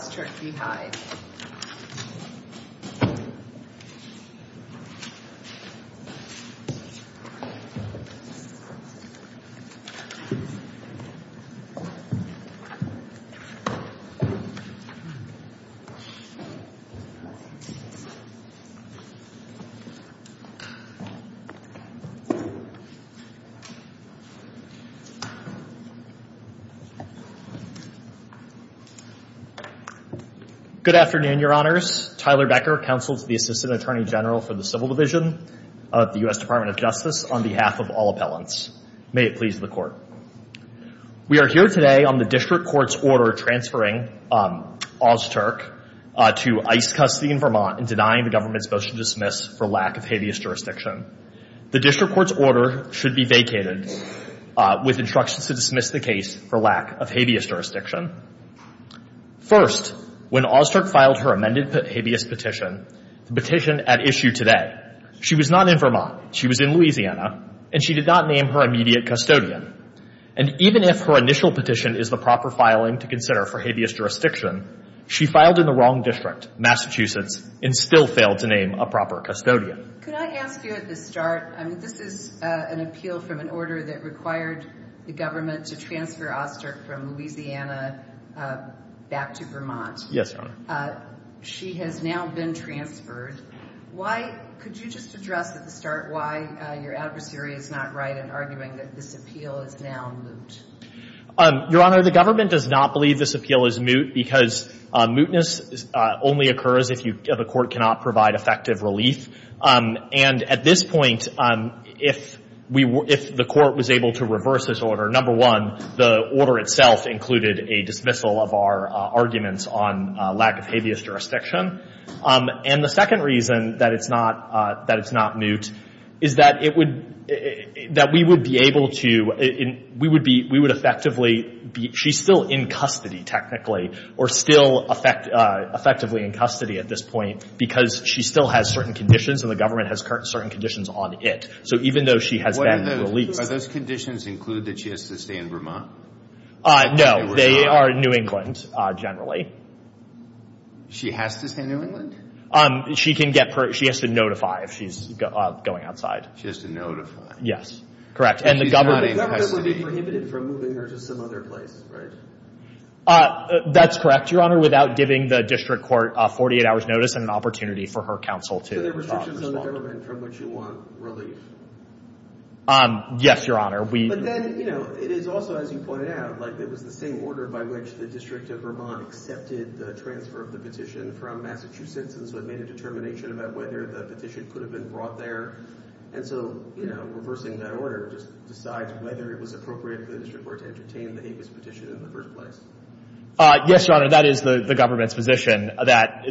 Ozturk v. Hyde Good afternoon, your honors. Tyler Becker, Counsel to the Assistant Attorney General for the Civil Division of the U.S. Department of Justice, on behalf of all appellants. May it please the Court. We are here today on the District Court's order transferring Ozturk to ICE custody in Vermont and denying the government's motion to dismiss for lack of habeas jurisdiction. The District Court's order should be vacated with instructions to dismiss the case for lack of habeas jurisdiction. First, when Ozturk filed her amended habeas petition, petition at issue today, she was not in Vermont, she was in Louisiana, and she did not name her immediate custodian. And even if her initial petition is the proper filing to consider for habeas jurisdiction, she filed in the wrong district, Massachusetts, and still failed to name a proper custodian. Could I ask you at the start, this is an appeal from an order that required the government to transfer Ozturk from Louisiana back to Vermont. Yes, your honor. She has now been transferred. Why, could you just address at the start why your adversary is not right in arguing that this appeal is now moot? Your honor, the government does not believe this appeal is moot because mootness only occurs if a court cannot provide effective relief. And at this point, if the court was able to reverse this order, number one, the order itself included a dismissal of our arguments on lack of habeas jurisdiction. And the second reason that it's not moot is that we would be able to, we would effectively, she's still in custody technically, or still effectively in custody at this point, because she still has certain conditions and the government has certain conditions on it. So even though she has that relief. Are those conditions include that she has to stay in Vermont? No, they are New England, generally. She has to stay in New England? She can get, she has to notify if she's going outside. She has to notify. Yes, correct. And she's not in custody. And the government would be prohibited from moving her to some other place, right? That's correct, your honor, without giving the district court a 48-hour notice and an opportunity for her counsel to respond. So there are restrictions on the government from which you want relief? Yes, your honor. But then, you know, it is also, as you pointed out, like it was the same order by which the district of Vermont accepted the transfer of the position from Massachusetts, and so they made a determination about whether the position could have been brought there. And so, you know, reversing that order just decides whether it was appropriate for the district court to entertain the habeas position in the first place. Yes, your honor, that is the government's position, that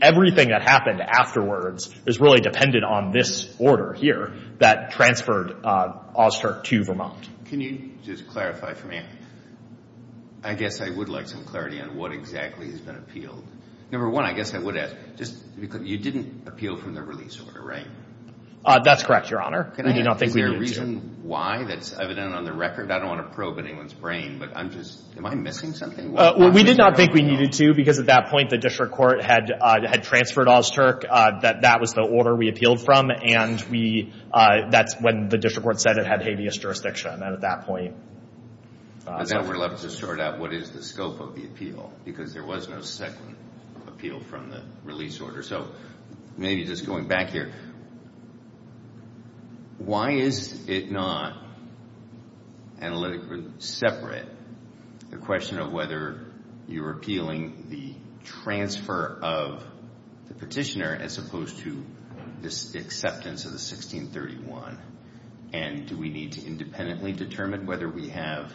everything that happened afterwards is really dependent on this order here that transferred Auster to Vermont. Can you just clarify for me? I guess I would like some clarity on what exactly has been appealed. Number one, I guess I would ask, you didn't appeal from the release order, right? That's correct, your honor. Is there a reason why that's evident on the record? I don't want to probe anyone's brain, but I'm just, am I missing something? Well, we did not think we needed to, because at that point the district court had transferred Auster, that that was the order we appealed from, and we, that's when the district court said it had habeas jurisdiction at that point. I would love to sort out what is the scope of the appeal, because there was no second appeal from the release order. So, maybe just going back here, why is it not, analytically separate, the question of whether you're appealing the transfer of the petitioner as opposed to this acceptance of the 1631? And do we need to independently determine whether we have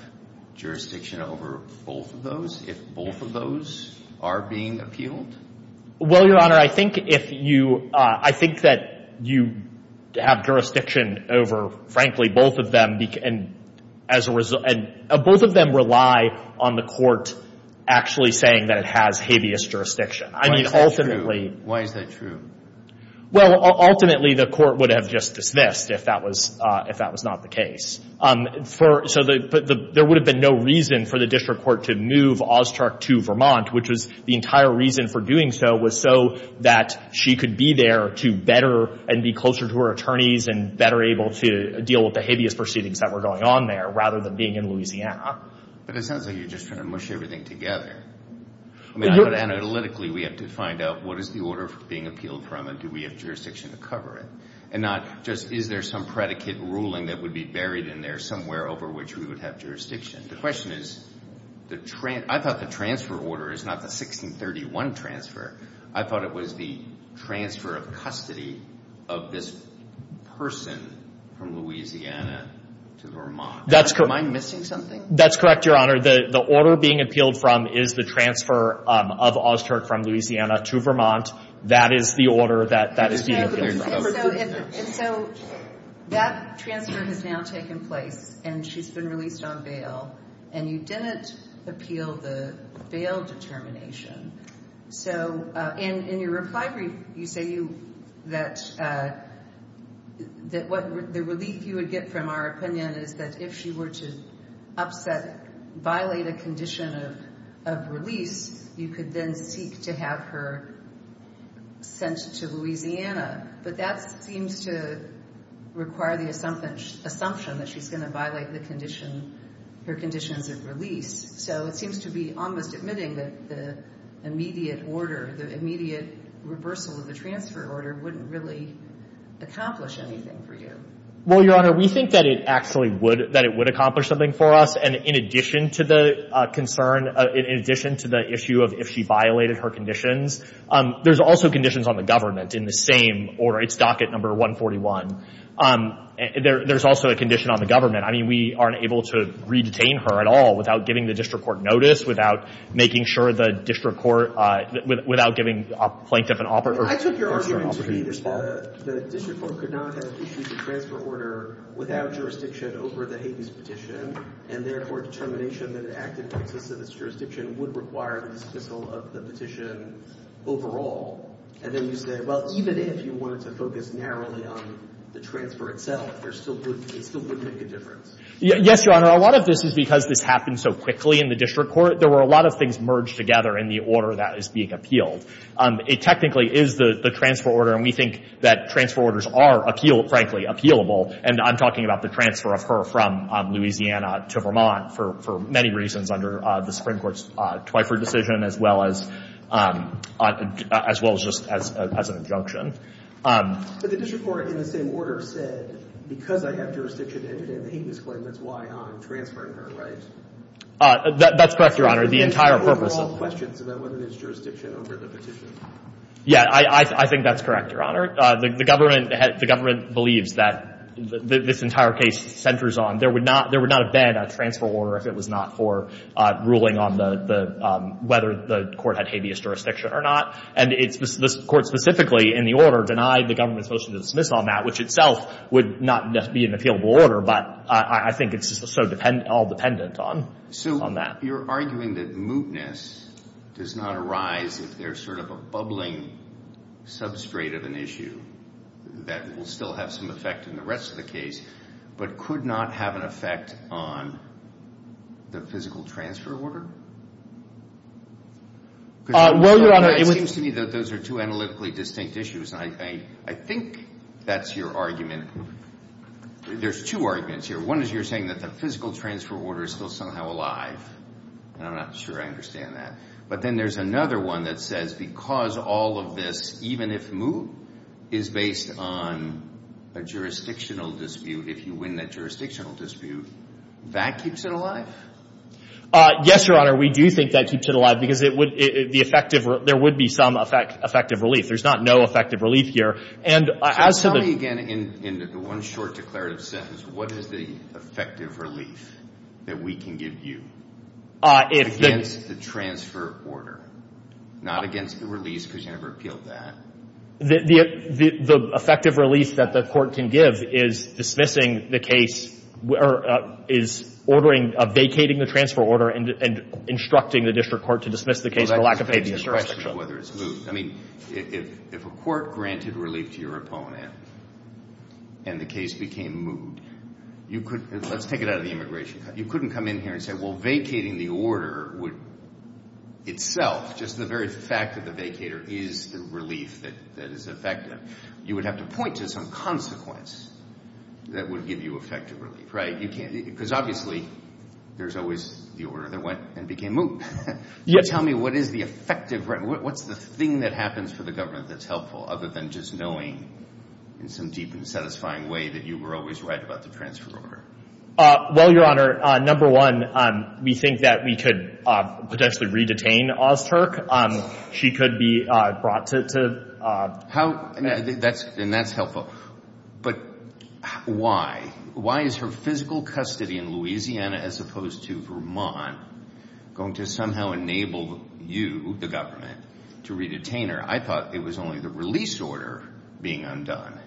jurisdiction over both of those, if both of those are being appealed? Well, your honor, I think if you, I think that you have jurisdiction over, frankly, both of them, and as a result, both of them rely on the court actually saying that it has habeas jurisdiction. Why is that true? Well, ultimately the court would have just dismissed if that was not the case. So, there would have been no reason for the district court to move Auster to Vermont, which was the entire reason for doing so was so that she could be there to better, and be closer to her attorneys, and better able to deal with the habeas proceedings that were going on there, rather than being in Louisiana. But it sounds like you're just trying to mush everything together. Analytically, we have to find out what is the order being appealed from, and do we have jurisdiction to cover it? And not just, is there some predicate ruling that would be buried in there somewhere over which we would have jurisdiction? The question is, I thought the transfer order is not the 1631 transfer. I thought it was the transfer of custody of this person from Louisiana to Vermont. That's correct. Am I missing something? That's correct, Your Honor. The order being appealed from is the transfer of Auster from Louisiana to Vermont. That is the order that is being appealed from. And so, that transfer has now taken place, and she's been released on bail, and you didn't appeal the bail determination. So, in your reply brief, you say that the relief you would get from our opinion is that if she were to violate a condition of release, you could then seek to have her sent to Louisiana. But that seems to require the assumption that she's going to violate her conditions of release. So, it seems to be almost admitting that the immediate order, the immediate reversal of the transfer order wouldn't really accomplish anything for you. Well, Your Honor, we think that it actually would, that it would accomplish something for us. And in addition to the concern, in addition to the issue of if she violated her conditions, there's also conditions on the government in the same order. It's docket number 141. There's also a condition on the government. I mean, we aren't able to re-detain her at all without giving the district court notice, without making sure the district court, without giving a plaintiff an offer. I took your argument to mean that the district court could not have issued the transfer order without jurisdiction over the Hayden's petition. And therefore, determination that an act entitled to this jurisdiction would require the refusal of the petition overall. And then you say, well, even if you were to focus narrowly on the transfer itself, it still wouldn't make a difference. Yes, Your Honor. A lot of this is because this happened so quickly in the district court. There were a lot of things merged together in the order that is being appealed. It technically is the transfer order, and we think that transfer orders are, frankly, appealable. And I'm talking about the transfer of her from Louisiana to Vermont for many reasons under the Supreme Court's Twyford decision, as well as just as an injunction. But the district court, in the same order, said, because I have jurisdiction over the Hayden's claim, that's why I'm transferring her, right? That's correct, Your Honor. The entire purpose of... There were a lot of questions about whether there's jurisdiction over the petition. Yeah, I think that's correct, Your Honor. The government believes that this entire case centers on, there would not have been a transfer order if it was not for ruling on whether the court had habeas jurisdiction or not. And the court specifically, in the order, denied the government's motion to dismiss on that, which itself would not be an appealable order, but I think it's just all dependent on that. So you're arguing that mootness does not arise if there's sort of a bubbling substrate of an issue that will still have some effect in the rest of the case, but could not have an effect on the physical transfer order? Well, Your Honor... It seems to me that those are two analytically distinct issues, and I think that's your argument. There's two arguments here. One is you're saying that the physical transfer order is still somehow alive. I'm not sure I understand that. But then there's another one that says because all of this, even if moot, is based on a jurisdictional dispute, if you win that jurisdictional dispute, that keeps it alive? Yes, Your Honor, we do think that keeps it alive, because there would be some effective relief. There's not no effective relief here. So tell me again, in the one short declarative sentence, what is the effective relief that we can give you? Against the transfer order. Not against the release, because you never appealed that. The effective relief that the court can give is dismissing the case, or is ordering, vacating the transfer order, and instructing the district court to dismiss the case for lack of a justification. I mean, if a court granted relief to your opponent, and the case became moot, let's take it out of the immigration, you couldn't come in here and say, well, vacating the order itself, just the very fact of the vacator is the relief that is effective. You would have to point to some consequence that would give you effective relief, right? Because obviously, there's always the order that went and became moot. Tell me what is the effective, what's the thing that happens for the government that's helpful, other than just knowing, in some deep and satisfying way, that you were always right about the transfer order? Well, your honor, number one, we think that we could potentially re-detain Oz Turk. She could be brought to... How, and that's helpful, but why? Why is her physical custody in Louisiana, as opposed to Vermont, going to somehow enable you, the government, to re-detain her? I thought it was only the release order being undone.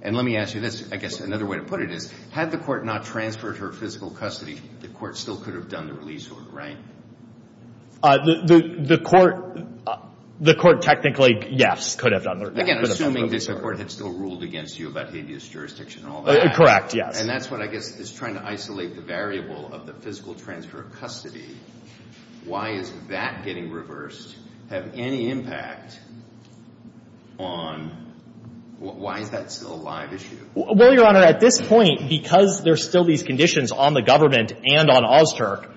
And let me ask you this, I guess another way to put it is, had the court not transferred her physical custody, the court still could have done the release order, right? The court technically, yes, could have done the release order. Again, assuming the court had still ruled against you about being in this jurisdiction and all that. Correct, yes. And that's what I guess is trying to isolate the variable of the physical transfer of custody. Why is that getting reversed, have any impact on, why is that still a live issue? Well, your honor, at this point, because there's still these conditions on the government and on Oz Turk,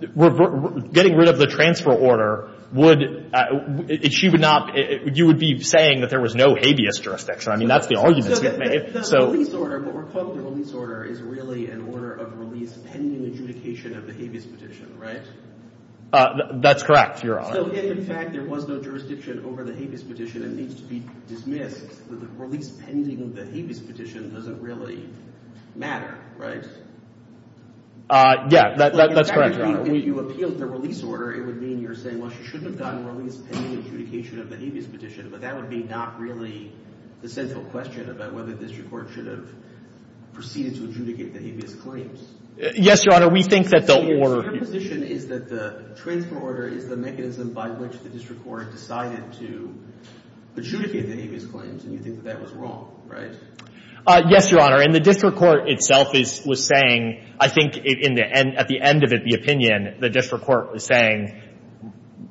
getting rid of the transfer order would, she would not, you would be saying that there was no habeas jurisdiction. I mean, that's the argument. The release order, what we're calling the release order, is really an order of release pending the adjudication of the habeas petition, right? That's correct, your honor. So if, in fact, there was no jurisdiction over the habeas petition, it needs to be dismissed. The release pending the habeas petition doesn't really matter, right? Yeah, that's correct, your honor. If you appealed the release order, it would mean you're saying, well, she shouldn't have done the release pending the adjudication of the habeas petition, but that would be not really the central question about whether the district court should have proceeded to adjudicate the habeas claims. Yes, your honor, we think that the order... Your position is that the transfer order is the mechanism by which the district court decided to adjudicate the habeas claims, and you think that was wrong, right? Yes, your honor, and the district court itself was saying, I think, at the end of the opinion, the district court was saying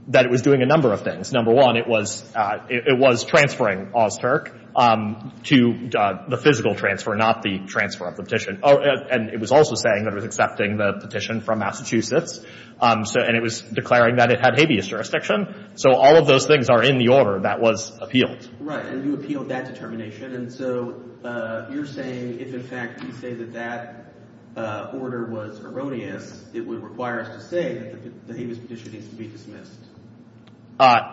that it was doing a number of things. Number one, it was transferring Ozturk to the physical transfer, not the transfer of petition, and it was also saying that it was accepting the petition from Massachusetts, and it was declaring that it had habeas jurisdiction. So all of those things are in the order that was appealed. Right, and you appealed that determination, and so you're saying if, in fact, you say that that order was erroneous, it would require us to say that the habeas petition needs to be dismissed.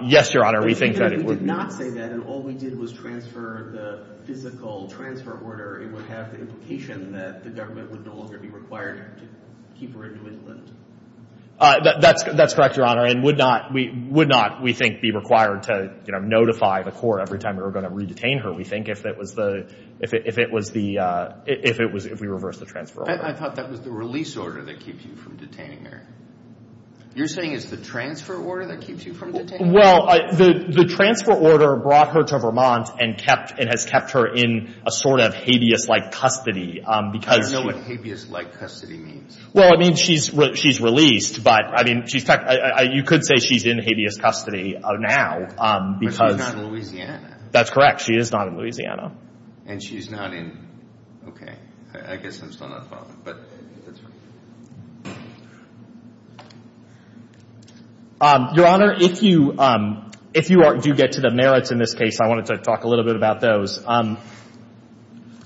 Yes, your honor, we think that it would... You did not say that, and all we did was transfer the physical transfer order. It would have the implication that the government would no longer be required to keep her in Winston. That's correct, your honor, and would not, we think, be required to notify the court every time we were going to re-detain her, we think, if it was the... if we reversed the transfer order. I thought that was the release order that keeps you from detaining her. You're saying it's the transfer order that keeps you from detaining her? Well, the transfer order brought her to Vermont and has kept her in a sort of habeas-like custody because... I don't know what habeas-like custody means. Well, I mean, she's released, but, I mean, you could say she's in habeas custody now because... But she's not in Louisiana. That's correct, she is not in Louisiana. And she's not in... okay, I guess I'm still not following, but... Your honor, if you do get to the merits in this case, I wanted to talk a little bit about those.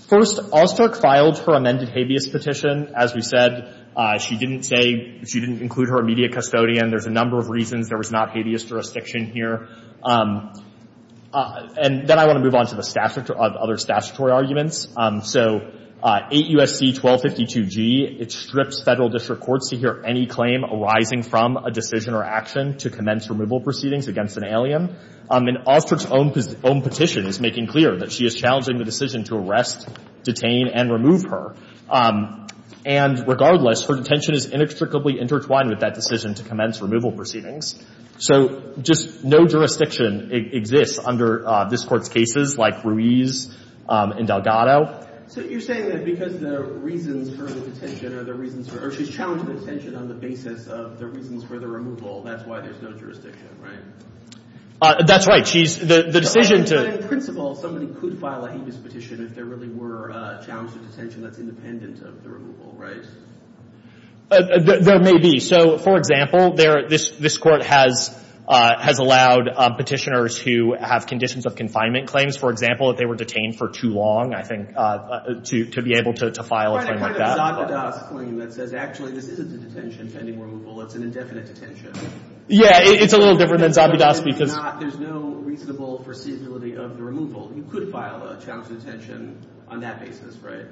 First, Allstark filed her amended habeas petition. As we said, she didn't say... she didn't include her in media custodian. There's a number of reasons there was not habeas jurisdiction here. And then I want to move on to the other statutory arguments. So, 8 U.S.C. 1252G, it strips federal district courts to hear any claim arising from a decision or action to commence removal proceedings against an alien. And Allstark's own petition is making clear that she is challenging the decision to arrest, detain, and remove her. And, regardless, her detention is inextricably intertwined with that decision to commence removal proceedings. So, just no jurisdiction exists under this court's cases, like Ruiz and Delgado. So, you're saying that because the reasons for the detention are the reasons for... or she's challenging detention on the basis of the reasons for the removal, that's why there's no jurisdiction, right? That's right. She's... the decision to... As a principle, someone could file a habeas petition if there really were challenges to detention that's independent of the removal, right? There may be. So, for example, this court has allowed petitioners who have conditions of confinement claims, for example, if they were detained for too long, I think, to be able to file a claim like that. It's kind of like a Zabudowsky claim that actually there is a detention pending removal. It's an indefinite detention. Yeah, it's a little different than Zabudowsky. There's no reasonable foreseeability of the removal. You could file a challenge to detention on that basis, right?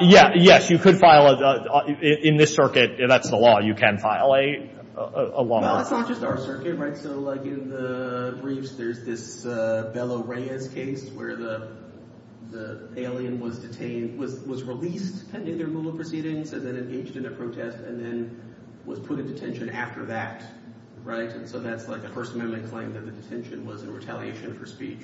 Yes, you could file a... in this circuit, that's the law. You can file a law. Well, it's not just our circuit, right? So, like, in the briefs, there's this Bella Reyes case where the alien was detained... was released pending their removal proceedings and then engaged in a protest and then was put in detention after that, right? So that's like a person who had claimed that his detention was in retaliation for speech.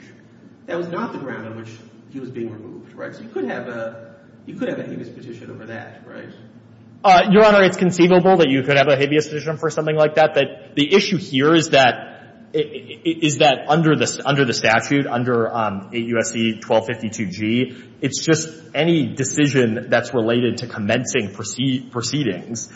That was not the ground on which he was being removed, right? So you could have a... you could have a habeas petition over that, right? Your Honor, it's conceivable that you could have a habeas petition for something like that. But the issue here is that... is that under the statute, under 8 U.S.C. 1252G, it's just any decision that's related to commencing proceedings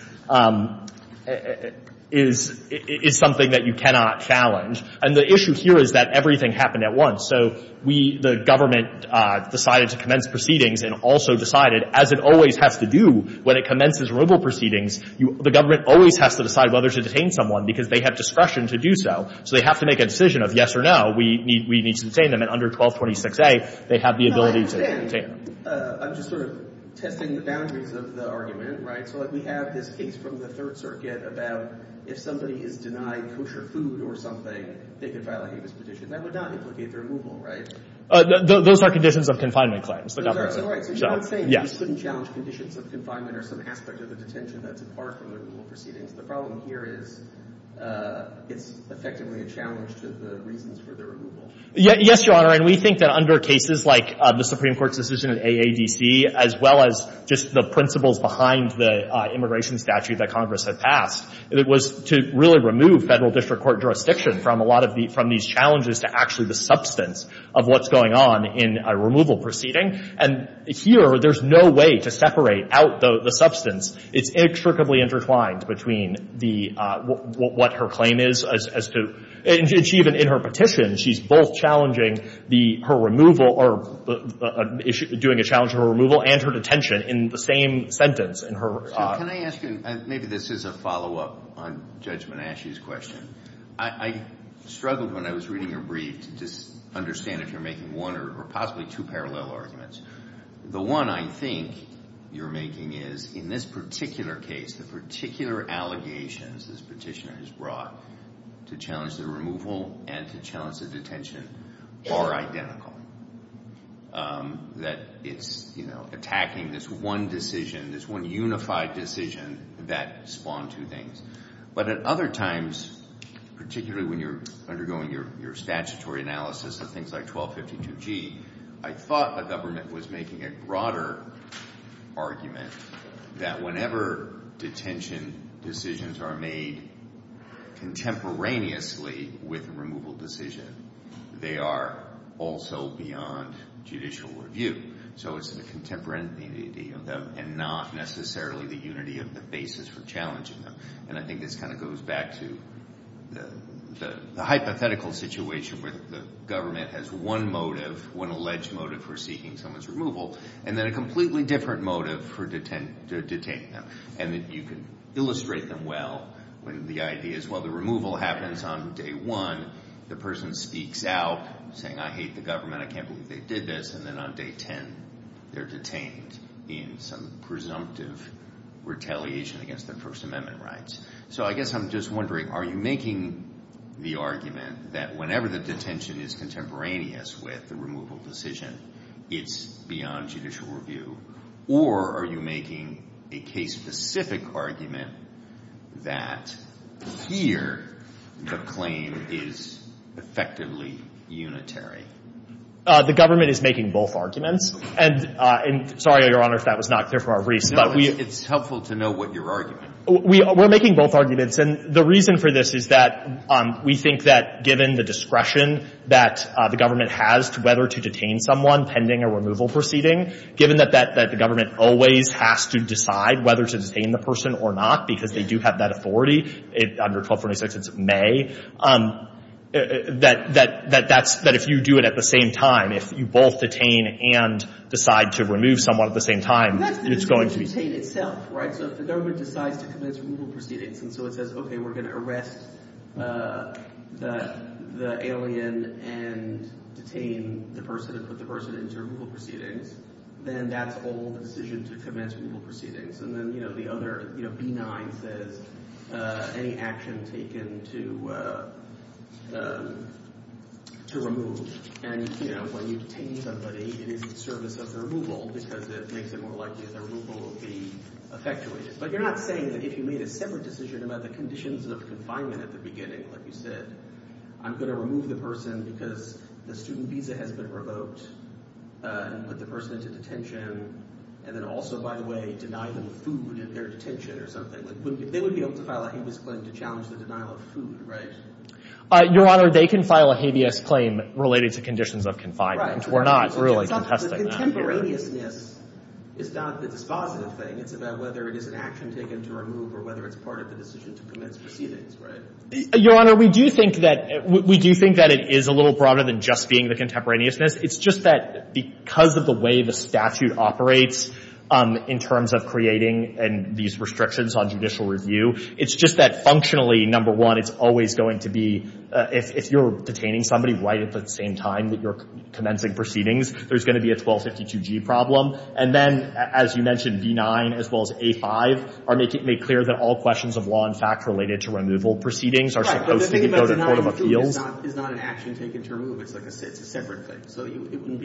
is something that you cannot challenge. And the issue here is that everything happened at once. So we... the government decided to commence proceedings and also decided, as it always has to do when it commences removal proceedings, the government always has to decide whether to detain someone because they have discretion to do so. So they have to make a decision of yes or no. We need to detain them. And under 1226A, they have the ability to detain... I'm just sort of testing the boundaries of the argument, right? So, like, we have this case from the Third Circuit about if somebody is denied kosher food or something, they can file a habeas petition. That would not implicate the removal, right? Those are conditions of confinement claims. Those are. There's one thing. Yes. You couldn't challenge conditions of confinement or some aspect of the detention that's a part of the removal proceedings. The problem here is it's effectively a challenge to the reasons for the removal. Yes, Your Honor. And we think that under cases like the Supreme Court's decision in AADC, as well as just the principles behind the immigration statute that Congress had passed, it was to really remove federal district court jurisdiction from a lot of these challenges to actually the substance of what's going on in a removal proceeding. And here, there's no way to separate out the substance. It's intricately intertwined between what her claim is as to... And she even, in her petition, she's both challenging her removal or doing a challenge to her removal and her detention in the same sentence in her... Can I ask you, maybe this is a follow-up on Judge Menasche's question. I struggled when I was reading her brief to just understand if you're making one or possibly two parallel arguments. The one I think you're making is, in this particular case, the particular allegations this petitioner has brought to challenge the removal and to challenge the detention are identical. That it's attacking this one decision, this one unified decision that spawned two things. But at other times, particularly when you're undergoing your statutory analysis of things like 1252G, I thought the government was making a broader argument that whenever detention decisions are made contemporaneously with removal decisions, they are also beyond judicial review. So it's the contemporaneity of them and not necessarily the unity of the basis for challenging them. And I think this kind of goes back to the hypothetical situation where the government has one motive, one alleged motive for seeking someone's removal, and then a completely different motive to detain them. And you can illustrate them well when the idea is, well, the removal happens on day one, the person speaks out saying, I hate the government, I can't believe they did this, and then on day ten they're detained in some presumptive retaliation against their First Amendment rights. So I guess I'm just wondering, are you making the argument that whenever the detention is contemporaneous with the removal decision, it's beyond judicial review? Or are you making a case-specific argument that here the claim is effectively unitary? The government is making both arguments, and sorry, Your Honor, if that was not there for our briefs. No, it's helpful to know what you're arguing. We're making both arguments, and the reason for this is that we think that given the discretion that the government has whether to detain someone pending a removal proceeding, given that the government always has to decide whether to detain the person or not, because they do have that authority under 1246, it's May, that if you do it at the same time, if you both detain and decide to remove someone at the same time, it's going to be- Right, so if the government decides to commence removal proceedings, and so it says, okay, we're going to arrest the alien and detain the person and put the person into removal proceedings, then that's all the decision to commence removal proceedings. And then, you know, the other, you know, B-9 says any action taken to remove, and, you know, when you detain somebody, it is in service of the removal because it makes it more likely that their removal will be effectuated. But you're not saying that if you made a separate decision about the conditions of confinement at the beginning, like you said, I'm going to remove the person because the student visa has been revoked, and put the person into detention, and then also, by the way, deny them food in their detention or something. Like, they would be able to file a Habeas Claim to challenge the denial of food, right? Your Honor, they can file a Habeas Claim related to conditions of confinement. Right. But the contemporaneousness is not the dispositive thing. It's about whether it is an action taken to remove or whether it's part of the decision to commence proceedings, right? Your Honor, we do think that it is a little broader than just being the contemporaneousness. It's just that because of the way the statute operates in terms of creating these restrictions on judicial review, it's just that functionally, number one, it's always going to be, if you're detaining somebody right at the same time that you're commencing proceedings, there's going to be a 1252G problem. And then, as you mentioned, B-9 as well as A-5 make clear that all questions of law and fact related to removal proceedings are supposed to be sort of appealed. Right, but the thing is that it's not an action taken to remove. It's like I said, it's a separate thing. So it wouldn't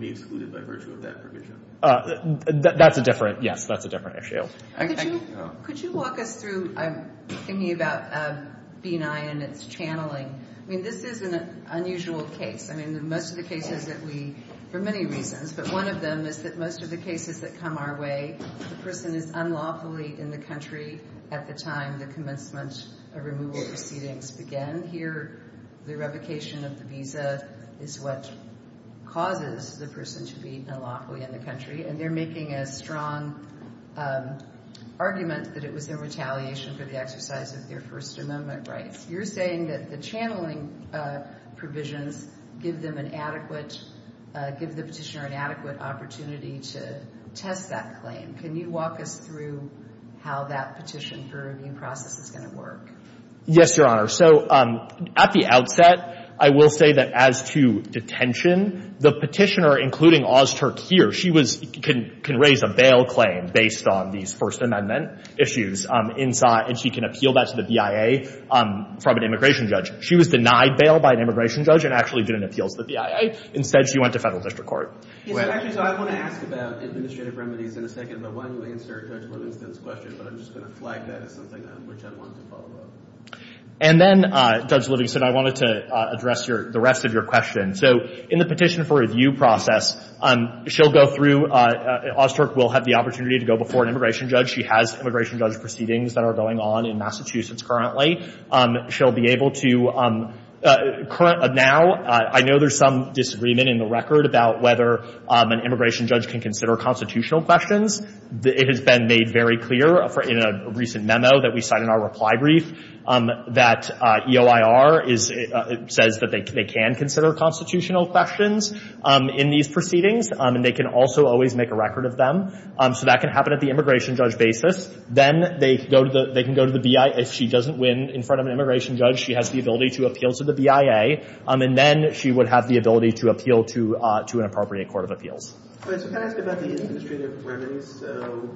be excluded by virtue of that provision. That's a different, yes, that's a different issue. Could you walk us through, I'm thinking about B-9 and its channeling. I mean, this is an unusual case. I mean, most of the cases that we, for many reasons, but one of them is that most of the cases that come our way, the person is unlawfully in the country at the time the commencement of removal proceedings began. Here, the revocation of the visa is what causes the person to be unlawfully in the country. And they're making a strong argument that it was their retaliation for the exercise of their First Amendment rights. You're saying that the channeling provision gives them an adequate, gives the petitioner an adequate opportunity to test that claim. Can you walk us through how that petition for review process is going to work? Yes, Your Honor. So at the outset, I will say that as to detention, the petitioner, including Oz Turk here, she can raise a bail claim based on these First Amendment issues inside, and she can appeal that to the BIA from an immigration judge. She was denied bail by an immigration judge and actually didn't appeal to the BIA. Instead, she went to federal district court. Actually, so I want to ask about administrative remedies in a second, but why don't we answer Judge Livingston's question, but I'm just going to flag that as something which I wanted to follow up. And then, Judge Livingston, I wanted to address the rest of your question. So in the petition for review process, she'll go through, Oz Turk will have the opportunity to go before an immigration judge. She has immigration judge proceedings that are going on in Massachusetts currently. She'll be able to, now, I know there's some disagreement in the record about whether an immigration judge can consider constitutional questions. It has been made very clear in a recent memo that we cite in our reply brief that EOIR says that they can consider constitutional questions in these proceedings, and they can also always make a record of them. So that can happen at the immigration judge basis. Then they can go to the BIA. If she doesn't win in front of an immigration judge, she has the ability to appeal to the BIA, and then she would have the ability to appeal to an appropriate court of appeals. I was just going to ask about the administrative remedies. So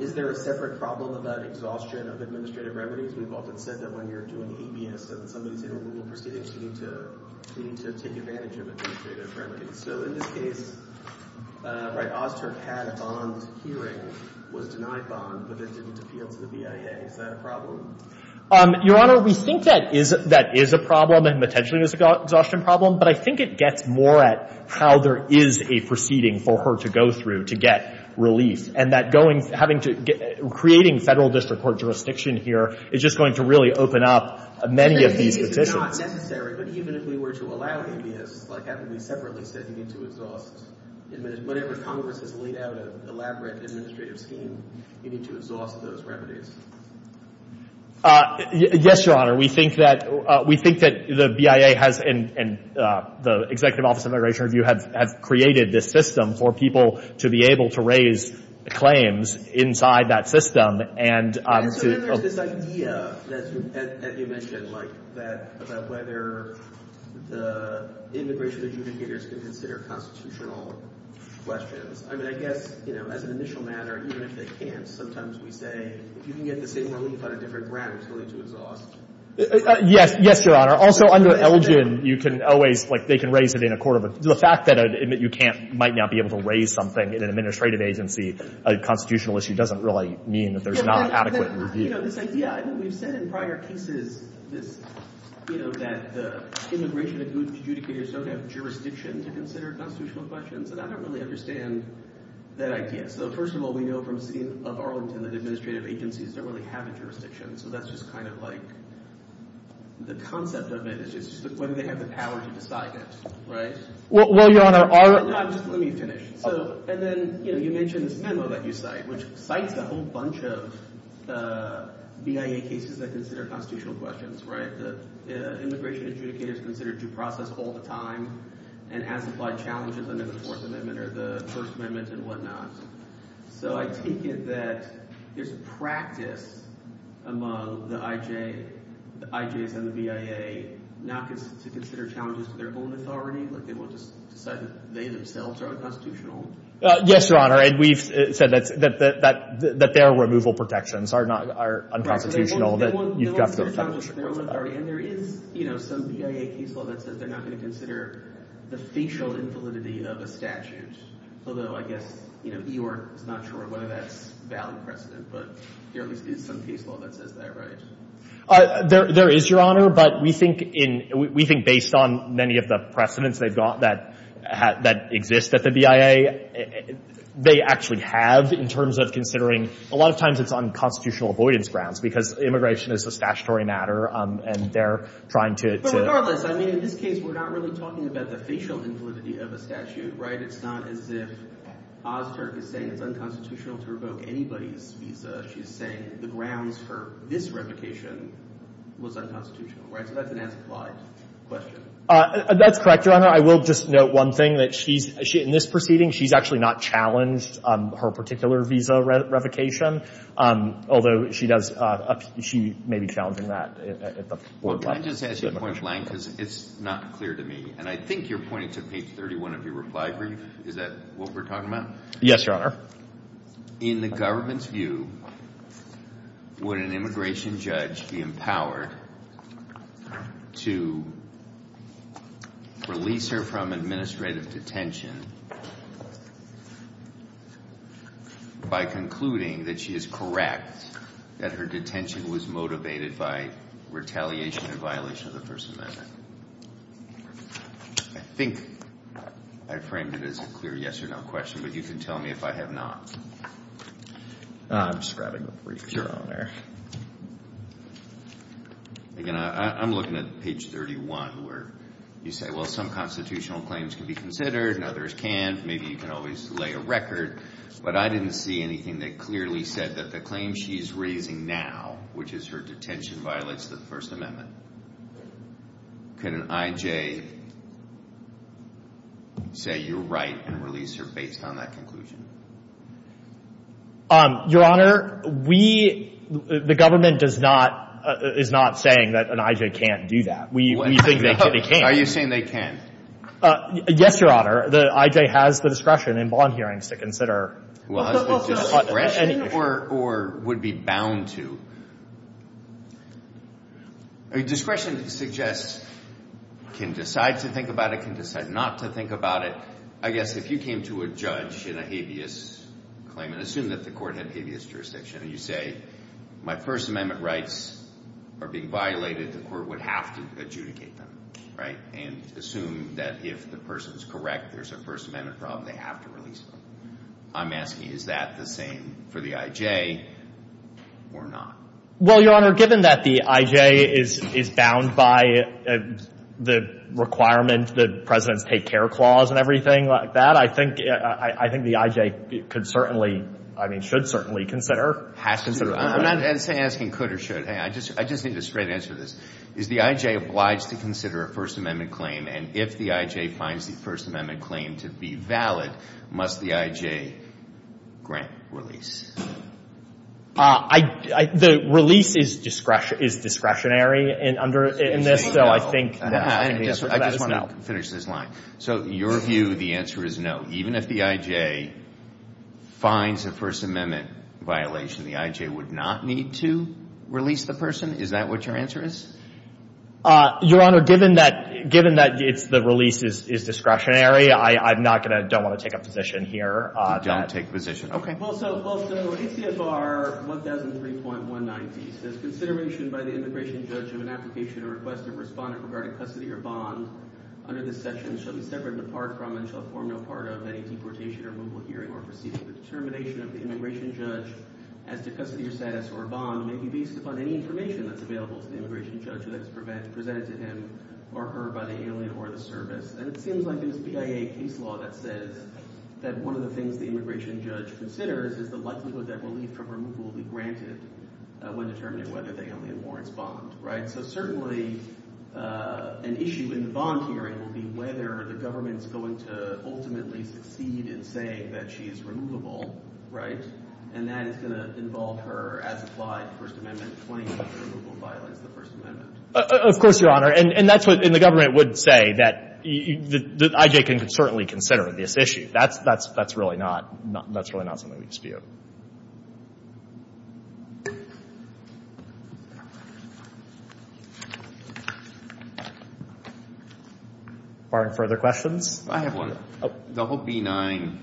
is there a separate problem about exhaustion of administrative remedies? You both have said that when you're doing a BIA, some of the proceedings seem to take advantage of administrative remedies. So in this case, right, Oz Turk had a bond hearing, was not a bond, but was able to appeal to the BIA. Is that a problem? Your Honor, we think that is a problem and potentially is an exhaustion problem, but I think it gets more at how there is a proceeding for her to go through to get relief and that creating federal district court jurisdiction here is just going to really open up many of these decisions. It's not necessary, but even if we were to allow it, like I said, we need to exhaust. Whenever Congress has laid out an elaborate administrative scheme, we need to exhaust those remedies. Yes, Your Honor. We think that the BIA and the Executive Office of Immigration Review have created this system for people to be able to raise claims inside that system. So there is this idea, as you mentioned, about whether the immigration adjudicators can consider constitutional questions. I mean, I guess as an initial matter, even if they can't, sometimes we say you can get the same relief on a different grant that's going to exhaust. Yes, Your Honor. Also under LGM, you can always, like they can raise it in a court of... The fact that you might not be able to raise something in an administrative agency, a constitutional issue, doesn't really mean that there's not an adequate review. Yes, we've said in prior cases that immigration adjudicators don't have jurisdiction to consider constitutional questions, but I don't really understand that idea. So first of all, we know from scenes of Arlington that administrative agencies don't really have a jurisdiction. So that's just kind of like the concept of it is when they have the power to decide that, right? Well, Your Honor, our... Let me finish. And then you mentioned the memo that you cite, which cites a whole bunch of BIA cases that consider constitutional questions, right? Immigration adjudicators consider due process all the time and amplify challenges under the Fourth Amendment or the First Amendment and whatnot. So I think that there's a practice among the IJs and the BIA that they're not going to consider challenges to their own authority, but they themselves are unconstitutional. Yes, Your Honor, and we've said that their removal protections are unconstitutional. And there is some BIA case law that says they're not going to consider the facial infallibility of a statute, although I guess you are not sure whether that's valid or not, but there is some case law that says that, right? There is, Your Honor, but we think based on many of the precedents they've got that exist at the BIA, they actually have in terms of considering... A lot of times it's on constitutional avoidance grounds because immigration is a statutory matter and they're trying to... But regardless, I mean, in this case, we're not really talking about the facial infallibility of a statute, right? It's not as if Oster is saying it's unconstitutional to revoke anybody's, she's saying the grounds for this revocation was unconstitutional, right? So that's an answer to the last question. That's correct, Your Honor. I will just note one thing, that in this proceeding, she's actually not challenged her particular visa revocation, although she may be challenging that at the foreclose. Well, can I just add to your point, Lang, because it's not clear to me, and I think you're pointing to page 31 of your reply brief. Is that what we're talking about? Yes, Your Honor. In the government's view, would an immigration judge be empowered to release her from administrative detention by concluding that she is correct, that her detention was motivated by retaliation and violation of the person's visa? I think I framed it as a clear yes or no question, but you can tell me if I have not. I'm just grabbing the brief, Your Honor. I'm looking at page 31, where you say, well, some constitutional claims can be considered and others can't. Maybe you can always lay a record, but I didn't see anything that clearly said that the claim she is raising now, which is her detention violates the First Amendment. Can an I.J. say you're right and release her based on that conclusion? Your Honor, the government is not saying that an I.J. can't do that. We think they can. Are you saying they can? Yes, Your Honor. The I.J. has the discretion in bond hearings to consider. Discretion or would be bound to? Discretion suggests you can decide to think about it, you can decide not to think about it. I guess if you came to a judge in a habeas claim and assumed that the court had habeas jurisdiction, and you say, my First Amendment rights are being violated, the court would have to adjudicate them, right, and assume that if the person's correct, there's a First Amendment problem, they have to release her. I'm asking, is that the same for the I.J. or not? Well, Your Honor, given that the I.J. is bound by the requirements, the President's Take Care Clause and everything like that, I think the I.J. could certainly, I mean, should certainly consider. I'm not asking could or should. I just need a straight answer to this. Is the I.J. obliged to consider a First Amendment claim, and if the I.J. finds the First Amendment claim to be valid, must the I.J. grant release? The release is discretionary in this, so I think no. I just want to finish this line. So your view, the answer is no. Even if the I.J. finds a First Amendment violation, the I.J. would not need to release the person? Is that what your answer is? Your Honor, given that the release is discretionary, I don't want to take a position here. Don't take a position. Well, so ACFR 1003.190 says, consideration by the immigration judge of an application or request of a respondent regarding custody or bond under this section shouldn't separate and depart from until a formal part of a deportation or removal hearing or proceeding. The determination of the immigration judge as to custody or status or bond may be based upon any information that is available to the immigration judge that is presented to him or her by the alien or the service. And it seems like in the CIA case law that says that one of the things the immigration judge considers is the likelihood that the release from removal will be granted when determining whether they come in Lawrence bond, right? So certainly, an issue in the bond hearing will be whether the government is going to ultimately proceed in saying that she is removable, right? And that is going to involve her as applied to First Amendment claims if the removal violates the First Amendment. Of course, Your Honor. And that's what the government would say that IJ can certainly consider this issue. That's really not something we dispute. Are there further questions? I have one. Double B-9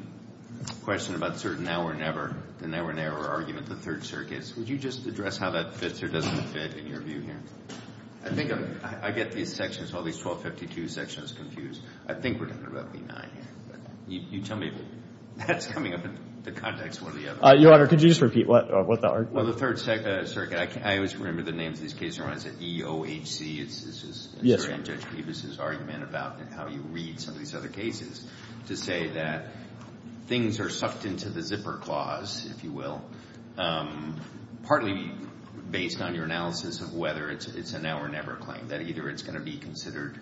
question about certain now or never, the now or never argument of the Third Circuit. Could you just address how that fits or doesn't fit in your view here? I think I get these sections, all these 1252 sections, confused. I think we're talking about B-9. You tell me if that's coming up in the context one or the other. Your Honor, could you just repeat what the argument is? Well, the Third Circuit, I always remember the name of these cases. It's E-O-H-C. This is Judge Peters' argument about how you read some of these other cases to say that things are sucked into the zipper clause, if you will, partly based on your analysis of whether it's a now or never claim, that either it's going to be considered.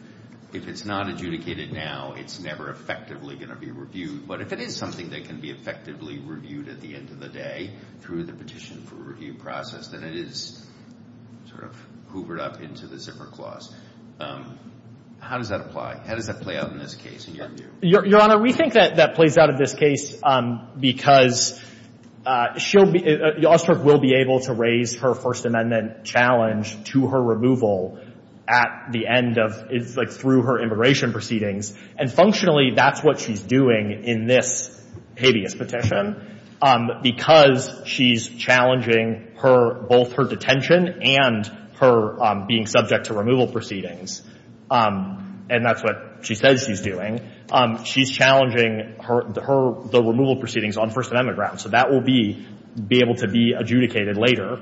If it's not adjudicated now, it's never effectively going to be reviewed. But if it is something that can be effectively reviewed at the end of the day through the petition for review process, then it is sort of hoovered up into the zipper clause. How does that apply? How does that play out in this case in your view? Your Honor, we think that that plays out in this case because the officer will be able to raise her First Amendment challenge to her removal through her immigration proceedings. And functionally, that's what she's doing in this habeas petition. Because she's challenging both her detention and her being subject to removal proceedings, and that's what she says she's doing, she's challenging the removal proceedings on First Amendment grounds. So that will be able to be adjudicated later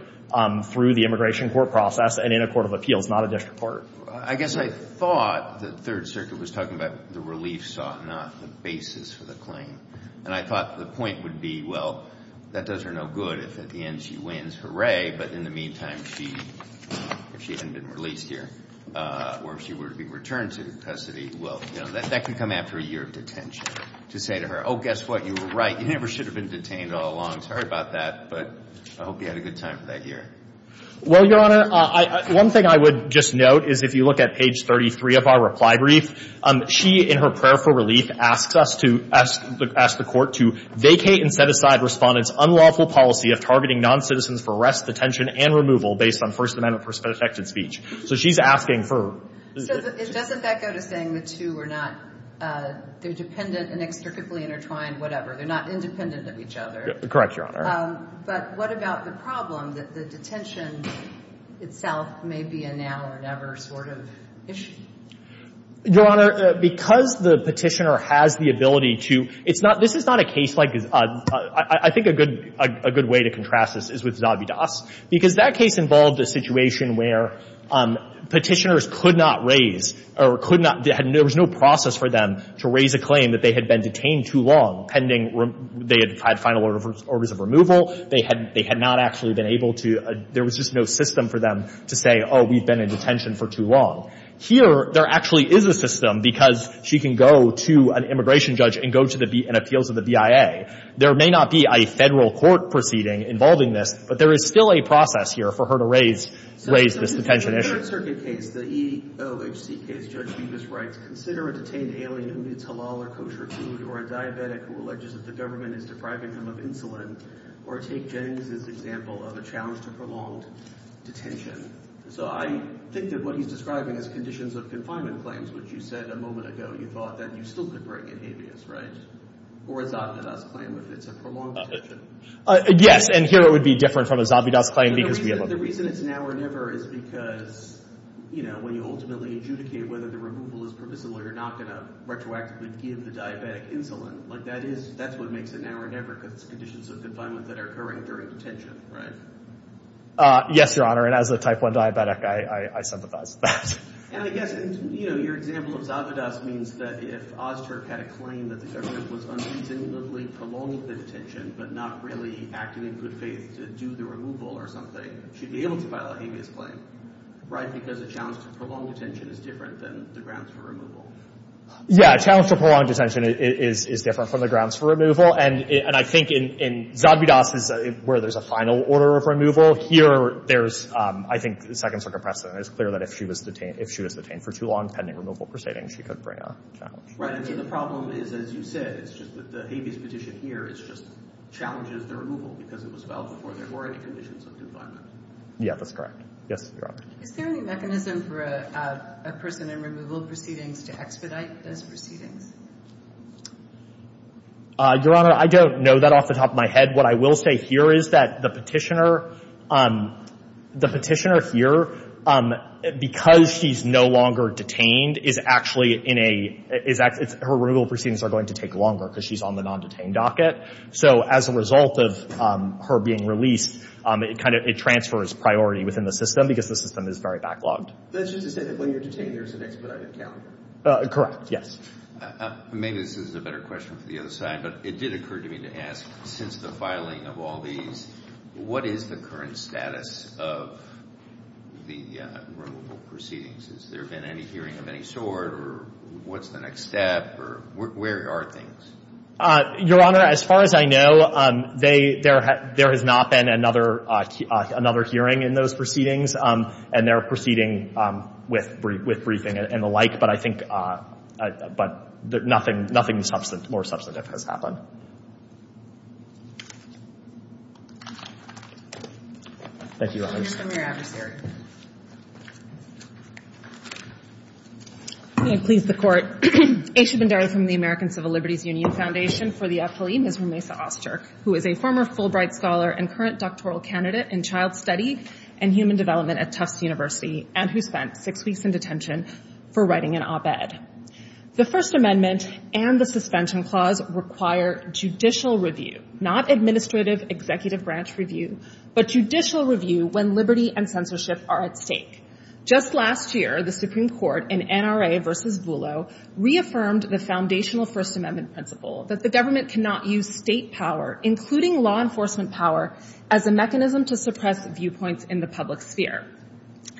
through the immigration court process and in a court of appeals, not a district court. I guess I thought the Third Circuit was talking about the relief sought, not the basis for the claim. And I thought the point would be, well, that does her no good if at the end she wins. Hooray. But in the meantime, she hasn't been released here. Or if she were to be returned to custody, well, that could come after a year of detention. To say to her, oh, guess what? You were right. You never should have been detained all along. Sorry about that. But I hope you had a good time for that year. Well, Your Honor, one thing I would just note is if you look at page 33 of our reply brief, she, in her prayer for relief, asks the court to vacate and set aside respondents' unlawful policy of targeting non-citizens for arrest, detention, and removal based on First Amendment perspective speech. So she's asking her. So doesn't that go to saying the two are not dependent and extricately intertwined, whatever? They're not independent of each other. Correct, Your Honor. But what about the problem that the detention itself may be a now or never sort of issue? Your Honor, because the petitioner has the ability to, this is not a case like, I think a good way to contrast this is with Zobby Doss. Because that case involved a situation where petitioners could not raise, or there was no process for them to raise a claim that they had been detained too long pending, they had had final orders of removal, they had not actually been able to, there was just no system for them to say, oh, we've been in detention for too long. Here, there actually is a system because she can go to an immigration judge and appeal to the BIA. There may not be a federal court proceeding involving this, but there is still a process here for her to raise this detention issue. In my survey case, the EOHC case, Judge Hughes writes, consider a detained alien who needs to lower kosher food, or a diabetic who alleges that the government is depriving him of insulin, or take Jen as an example of a challenge to prolonged detention. So I think that what he's describing is conditions of confinement claims, which you said a moment ago, you thought that you still could break a habeas, right? Or a Zobby Doss claim that it's a prolonged detention. Yes, and here it would be different from a Zobby Doss claim because we have other people. I think the reason it's now or never is because when you ultimately adjudicate whether the removal is permissible, you're not going to retroactively give the diabetic insulin. That's what makes it now or never, because it's conditions of confinement that are occurring during detention, right? Yes, Your Honor. And as a type 1 diabetic, I sympathize. And I guess your example of Zobby Doss means that if Ozturk had a claim that the government was unreasonably prolonged detention, but not really acting in good faith to do the removal or something, she'd be able to file a habeas claim, right? Because a challenge to prolonged detention is different than the grounds for removal. Yeah, a challenge to prolonged detention is different from the grounds for removal. And I think in Zobby Doss, where there's a final order of removal, here there's, I think, the Second Circuit precedent is clear that if she was detained for too long, pending removal proceeding, she could bring a challenge. Right, and the problem is, as you said, it's just that the habeas petition here just challenges the removal because it was filed before there were any conditions of confinement. Yeah, that's correct. Yes, Your Honor. Is there any mechanism for a prisoner removal proceeding to expedite those proceedings? Your Honor, I don't know that off the top of my head. What I will say here is that the petitioner here, because she's no longer detained, her removal proceedings are going to take longer because she's on the non-detained docket. So as a result of her being released, it transfers priority within the system because the system is very backlogged. That's just to say that when you're detained, there's an expedited calendar. Correct, yes. Maybe this is a better question for the other side. But it did occur to me to ask, since the filing of all these, what is the current status of the removal proceedings? Has there been any hearing of any sort? Or what's the next step? Where are things? Your Honor, as far as I know, there has not been another hearing in those proceedings. And they're proceeding with briefing and the like. But I think nothing more substantive has happened. Thank you, Your Honor. We're out of here. May it please the Court, Aisha Bhandari from the American Civil Liberties Union Foundation for the affiliated with Lisa Oster, who is a former Fulbright Scholar and current doctoral candidate in child studies and human development at Tufts University and who spent six weeks in detention for writing an op-ed. The First Amendment and the Suspension Clause require judicial review, not administrative executive branch review, but judicial review when liberty and censorship are at stake. Just last year, the Supreme Court in NRA v. Zullo reaffirmed the foundational First Amendment principle that the government cannot use state power, including law enforcement power, as a mechanism to suppress viewpoints in the public sphere.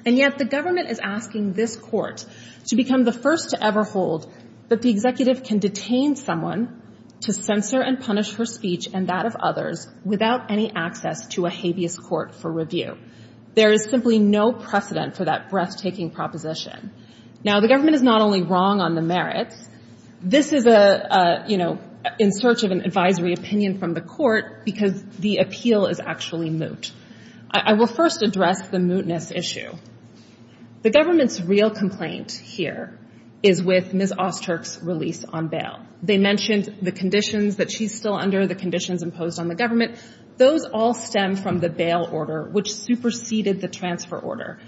And yet the government is asking this Court to become the first to ever hold that the executive can detain someone to censor and punish her speech and that of others without any access to a habeas court for review. There is simply no precedent for that breathtaking proposition. Now, the government is not only wrong on the merits. This is in search of an advisory opinion from the Court because the appeal is actually moot. I will first address the mootness issue. The government's real complaint here is with Ms. Oster's release on bail. They mentioned the conditions that she's still under, the conditions imposed on the government. Those all stem from the bail order, which superseded the transfer order.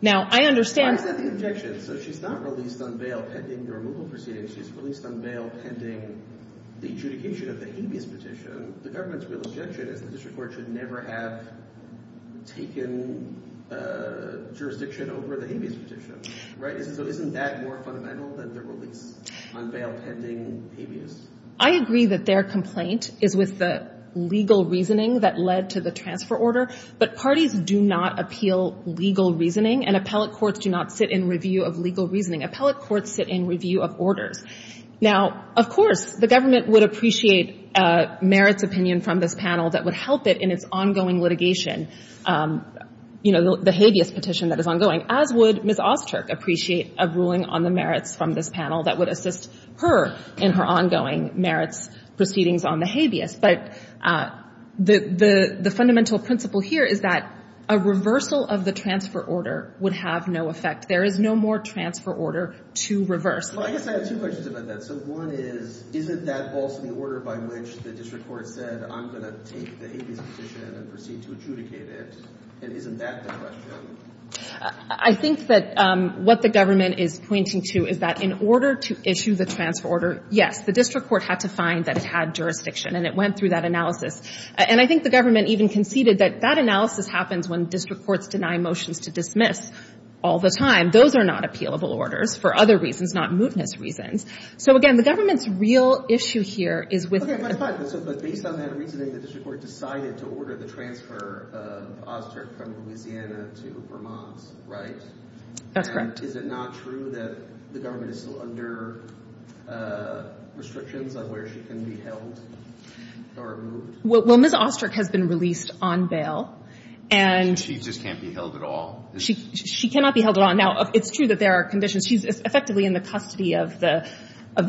Now, I understand... I agree that their complaint is with the legal reasoning that led to the transfer order, but parties do not appeal legal reasoning and appellate courts do not sit in review of legal reasoning. Appellate courts sit in review of orders. Now, of course, the government would appreciate a merits opinion from this panel that would help it in its ongoing litigation, you know, the habeas petition that is ongoing, as would Ms. Oster appreciate a ruling on the merits from this panel that would assist her in her ongoing merits proceedings on the habeas. But the fundamental principle here is that a reversal of the transfer order would have no effect. There is no more transfer order to reverse. I think that what the government is pointing to is that in order to issue the transfer order, yes, the district court had to find that it had jurisdiction and it went through that analysis. And I think the government even conceded that that analysis happens when district courts deny motions to dismiss all the time. Those are not appealable orders for other reasons, not mootness reasons. So again, the government's real issue here is with... ...where she can be held or removed. Well, Ms. Oster has been released on bail and... She just can't be held at all. She cannot be held at all. Now, it's true that there are conditions. She's effectively in the custody of the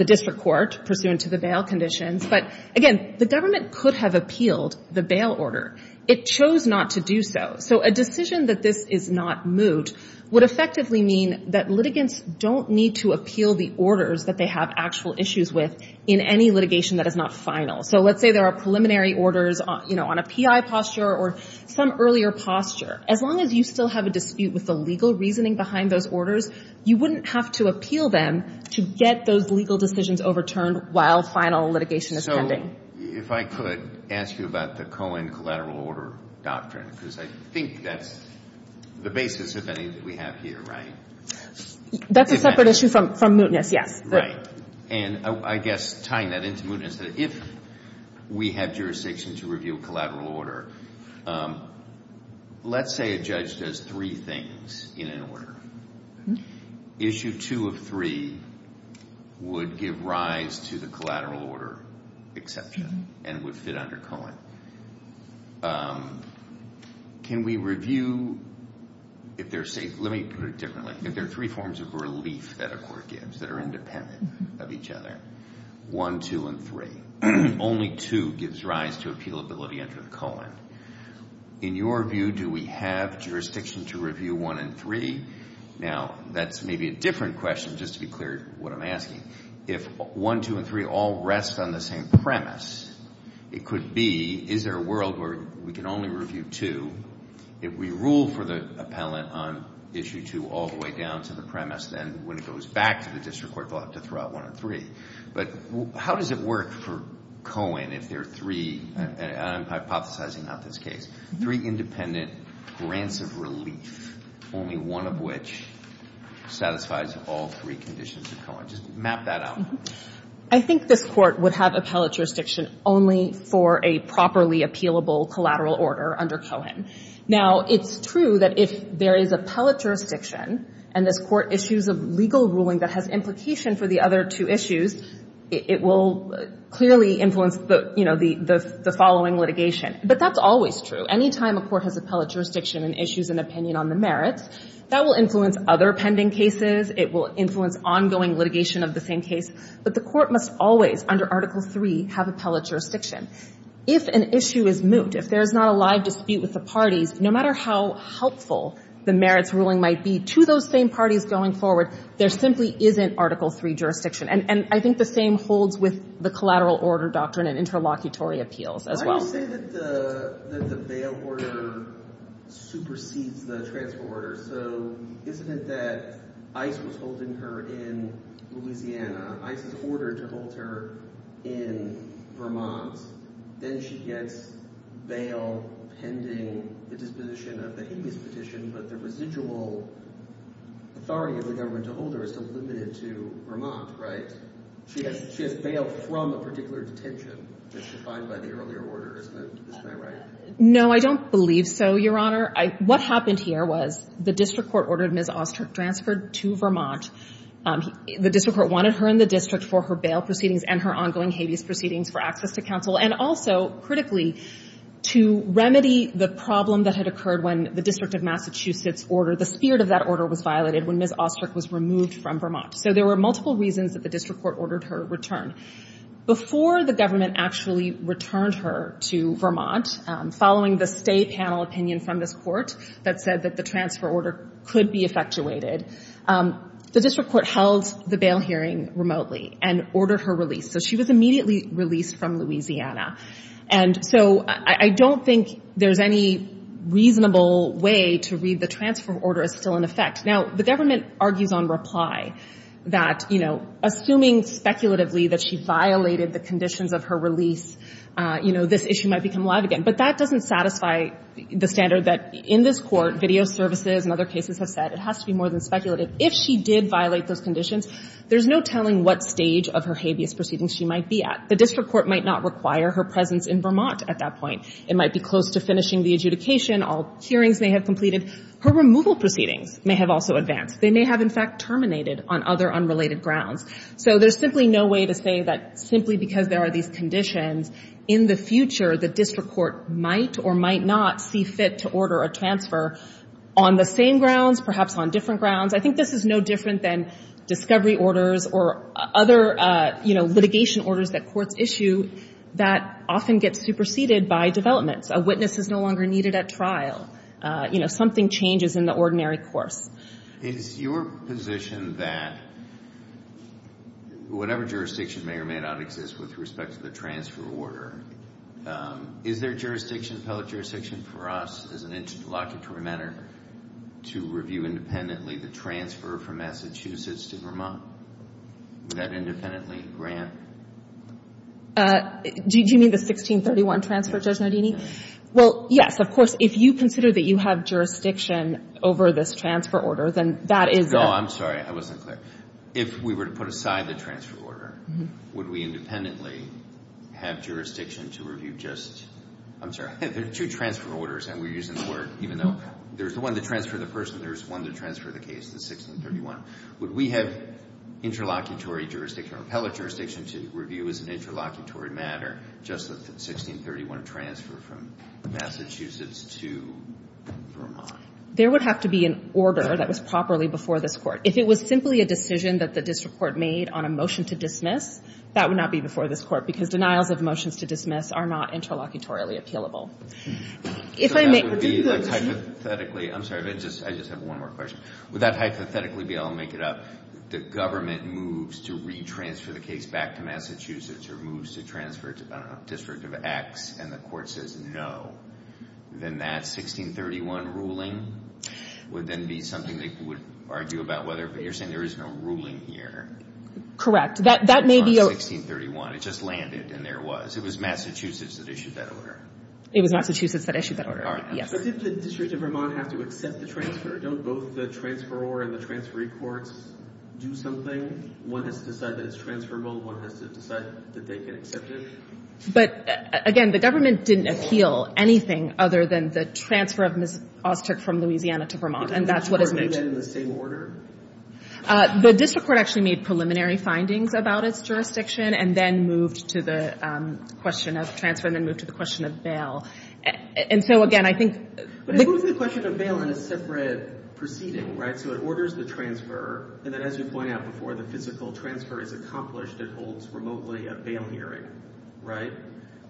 district court pursuant to the bail conditions. But again, the government could have appealed the bail order. It chose not to do so. So a decision that this is not moot would effectively mean that litigants don't need to appeal the orders that they have actual issues with in any litigation that is not final. So let's say there are preliminary orders on a PI posture or some earlier posture. As long as you still have a dispute with the legal reasoning behind those orders, you wouldn't have to appeal them to get those legal decisions overturned while final litigation is pending. So if I could ask you about the Cohen collateral order doctrine because I think that's the basis, if any, that we have here, right? That's a separate issue from mootness, yeah. And I guess tying that into mootness, if we had jurisdiction to review a collateral order, let's say a judge does three things in an order. Issue two of three would give rise to the collateral order exception and would fit under Cohen. Can we review if they're safe? Let me put it differently. If there are three forms of relief that a court gives that are independent of each other, one, two, and three, only two gives rise to appealability under Cohen. In your view, do we have jurisdiction to review one and three? Now, that's maybe a different question just to be clear what I'm asking. If one, two, and three all rest on the same premise, it could be, is there a world where we can only review two? If we rule for the appellant on issue two all the way down to the premise, then when it goes back to the district court, we'll have to throw out one and three. But how does it work for Cohen if there are three, and I'm hypothesizing on this case, three independent grants of relief, only one of which satisfies all three conditions of Cohen? Just map that out. I think the court would have appellate jurisdiction only for a properly appealable collateral order under Cohen. Now, it's true that if there is appellate jurisdiction and the court issues a legal ruling that has implication for the other two issues, it will clearly influence the following litigation. But that's always true. Anytime a court has appellate jurisdiction and issues an opinion on the merits, that will influence other pending cases. It will influence ongoing litigation of the same case. But the court must always, under Article III, have appellate jurisdiction. If an issue is moot, if there is not a live dispute with the parties, no matter how helpful the merits ruling might be to those same parties going forward, there simply isn't Article III jurisdiction. And I think the same holds with the collateral order doctrine and interlocutory appeals as well. Why do you think that the bail order supersedes the transfer order? So isn't it that ICE was holding her in Louisiana? ICE ordered to hold her in Vermont. Then she gets bail pending the disposition of the Higgins petition, but the residual authority of the government to hold her is limited to Vermont, right? She gets bail from a particular detention that she filed by the earlier order. Isn't that right? No, I don't believe so, Your Honor. What happened here was the district court ordered Ms. Austert transferred to Vermont. The district court wanted her in the district for her bail proceedings and her ongoing habeas proceedings for access to counsel and also, critically, to remedy the problem that had occurred when the District of Massachusetts order, the spirit of that order, was violated when Ms. Austert was removed from Vermont. So there were multiple reasons that the district court ordered her return. Before the government actually returned her to Vermont, following the state panel opinion from this court that said that the transfer order could be effectuated, the district court held the bail hearing remotely and ordered her release. So she was immediately released from Louisiana. And so I don't think there's any reasonable way to read the transfer order as still in effect. Now, the government argues on reply that, you know, assuming speculatively that she violated the conditions of her release, you know, this issue might become alive again. But that doesn't satisfy the standard that in this court, video services and other cases have said that it has to be more than speculative. If she did violate those conditions, there's no telling what stage of her habeas proceeding she might be at. The district court might not require her presence in Vermont at that point. It might be close to finishing the adjudication. All hearings may have completed. Her removal proceeding may have also advanced. They may have, in fact, terminated on other unrelated grounds. So there's simply no way to say that simply because there are these conditions, in the future, the district court might or might not see fit to order a transfer on the same grounds, perhaps on different grounds. I think this is no different than discovery orders or other, you know, litigation orders that courts issue that often get superseded by developments. A witness is no longer needed at trial. You know, something changes in the ordinary court. In your position that whatever jurisdiction may or may not exist with respect to the transfer order, is there jurisdiction, appellate jurisdiction for us, as an interpologetary matter, to review independently the transfer from Massachusetts to Vermont? Would that independently grant? Do you mean the 1631 transfer, Judge Nardini? Well, yes, of course, if you consider that you have jurisdiction over this transfer order, then that is... No, I'm sorry, I wasn't clear. If we were to put aside the transfer order, would we independently have jurisdiction to review just... I'm sorry, I think there's two transfer orders and we're using the word, even though there's one to transfer the person, there's one to transfer the case in 1631. Would we have interlocutory jurisdiction, appellate jurisdiction, to review as an interlocutory matter just the 1631 transfer from Massachusetts to Vermont? There would have to be an order that was properly before this court. If it was simply a decision that the district court made on a motion to dismiss, that would not be before this court because denials of motions to dismiss are not interlocutory available. If I may... So that would be hypothetically... I'm sorry, I just have one more question. Would that hypothetically be, I'll make it up, the government moves to re-transfer the case back to Massachusetts or moves to transfer it to a district of X and the court says no, then that 1631 ruling would then be something they would argue about whether there is no ruling here. Correct, that may be... It's not 1631, it just landed and there was. Because it was Massachusetts that issued that order. It was Massachusetts that issued that order, yes. Does the district of Vermont have to accept the transfer? Don't both the transferor and the transferee courts do something? One has to decide that it's transferable, one has to decide that they can accept it? But again, the government didn't appeal anything other than the transfer of Ms. Austert from Louisiana to Vermont and that's what it moved in. Was the government in the same order? The district court actually made preliminary findings about its jurisdiction and then moved to the question of transfer and then moved to the question of bail. And so again, I think... It moved to the question of bail in a separate proceeding, right? So it orders the transfer and then as you point out before, the physical transfer is accomplished and holds remotely a bail hearing, right?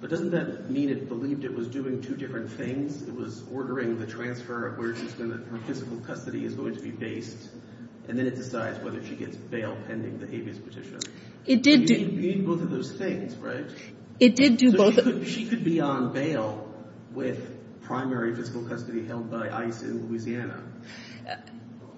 But doesn't that mean it believed it was doing two different things? It was ordering the transfer of where she's in the physical custody is going to be based and then it decides whether she gets bail pending the habeas petition. It did do... It did do both of those things, right? It did do both... She could be on bail with primary physical custody held by ICE in Louisiana.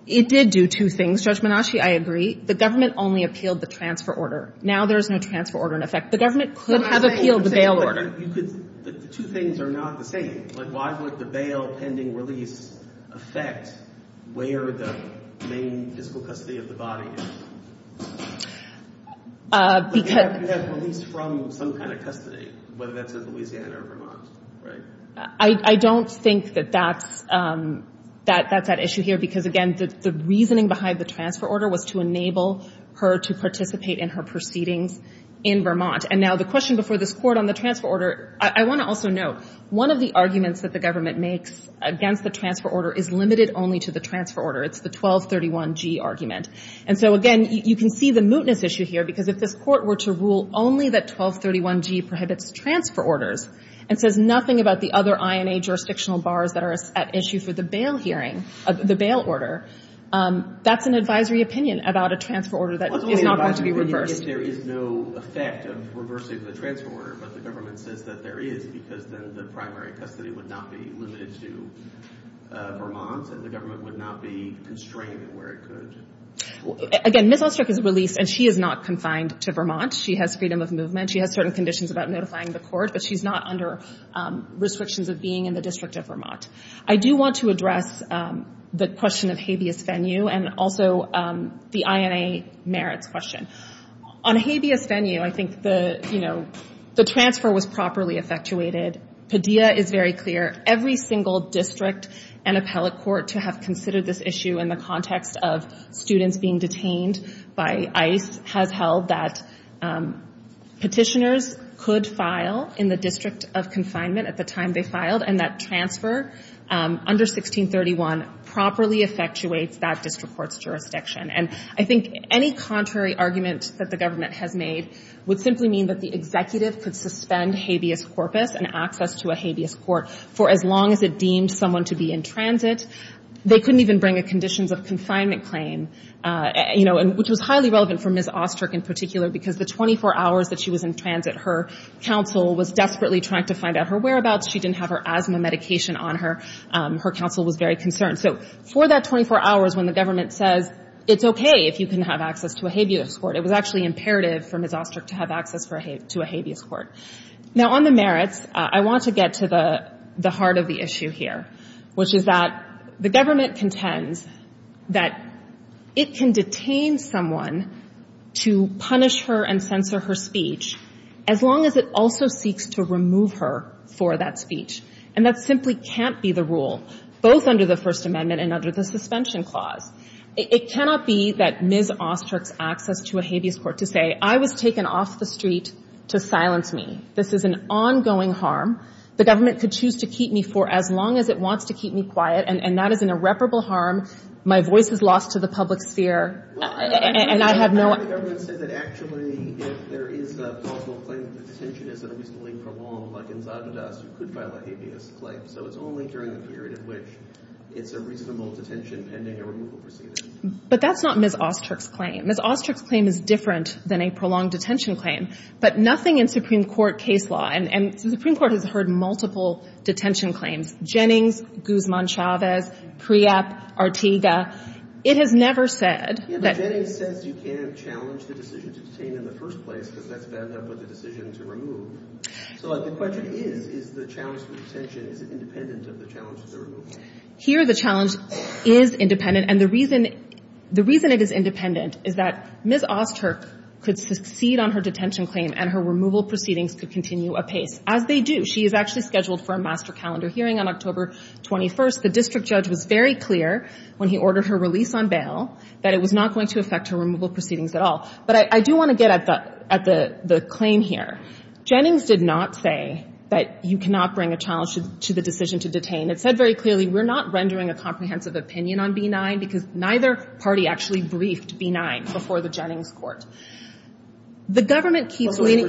It did do two things. Judge Menasci, I agree. The government only appealed the transfer order. Now there's no transfer order in effect. The government could have appealed the bail order. You could... The two things are not the same. But why would the bail pending release affect where the main physical custody of the body is? Because... I don't think that that's... That's that issue here because again, the reasoning behind the transfer order was to enable her to participate in her proceedings in Vermont. And now the question before this court on the transfer order, I want to also note one of the arguments that the government makes against the transfer order is limited only to the transfer order. It's the 1231G argument. And so again, you can see the mootness issue here because if this court were to rule only that 1231G prohibits the transfer orders and says nothing about the other INA jurisdictional bars that are at issue for the bail hearing, the bail order, that's an advisory opinion about a transfer order that is not going to be reversed. I guess there is no effect of reversing the transfer order, but the government says that there is because the primary custody would not be limited to Vermont and the government would not be constrained in where it could. Again, Ms. Ulstrup is released and she is not confined to Vermont. She has freedom of movement. She has certain conditions about notifying the court, but she's not under restrictions of being in the District of Vermont. I do want to address the question of habeas venue and also the INA merit question. On habeas venue, I think the transfer was properly effectuated. Padilla is very clear. Every single district and appellate court to have considered this issue in the context of students being detained by ICE has held that petitioners could file in the District of Consignment at the time they filed and that transfer under 1631 properly effectuates that district court's jurisdiction. I think any contrary argument that the government has made would simply mean that the executive could suspend habeas corpus and access to a habeas court for as long as it deemed someone to be in transit. They couldn't even bring a conditions of confinement claim, which was highly relevant for Ms. Ulstrup in particular because the 24 hours that she was in transit, her counsel was desperately trying to find out her whereabouts. She didn't have her asthma medication on her. Her counsel was very concerned. For that 24 hours, when the government says it's okay if you can have access to a habeas court, it was actually imperative for Ms. Ulstrup to have access to a habeas court. Now on the merits, I want to get to the heart of the issue here, which is that the government contends that it can detain someone to punish her and censor her speech as long as it also seeks to remove her for that speech. And that simply can't be the rule, both under the First Amendment and under the Suspension Clause. It cannot be that Ms. Ulstrup's going to a habeas court to say, I was taken off the street to silence me. This is an ongoing harm. The government could choose to keep me for as long as it wants to keep me quiet, and that is an irreparable harm. My voice is lost to the public sphere, and I have no... The government said that actually if there is a thoughtful claim of detention, it's going to be for long, like in Zadidaz, who could file a habeas claim. So it's only during the period in which it's a reasonable detention pending a removal procedure. But that's not Ms. Ulstrup's claim. Ms. Ulstrup's claim is different than a prolonged detention claim, but nothing in Supreme Court case law, and the Supreme Court has heard multiple detention claims. Jennings, Guzman-Chavez, Priyap, Ortega. It has never said that... The Jennings claim says you can't challenge the decision to detain in the first place because that would end up as a decision to remove. So the question is, is the challenge to detention independent of the challenge to remove? Here the challenge is independent, and the reason it is independent is that Ms. Ulstrup could succeed on her detention claim and her removal proceedings could continue as they do. She is actually scheduled for a master calendar hearing on October 21st. The district judge was very clear when he ordered her release on bail that it was not going to affect her removal proceedings at all. But I do want to get at the claim here. Jennings did not say that you cannot bring a challenge to the decision to detain. It said very clearly we're not rendering a comprehensive opinion on B-9 because neither party actually briefed B-9 before the Jennings court. The government keeps..................... And I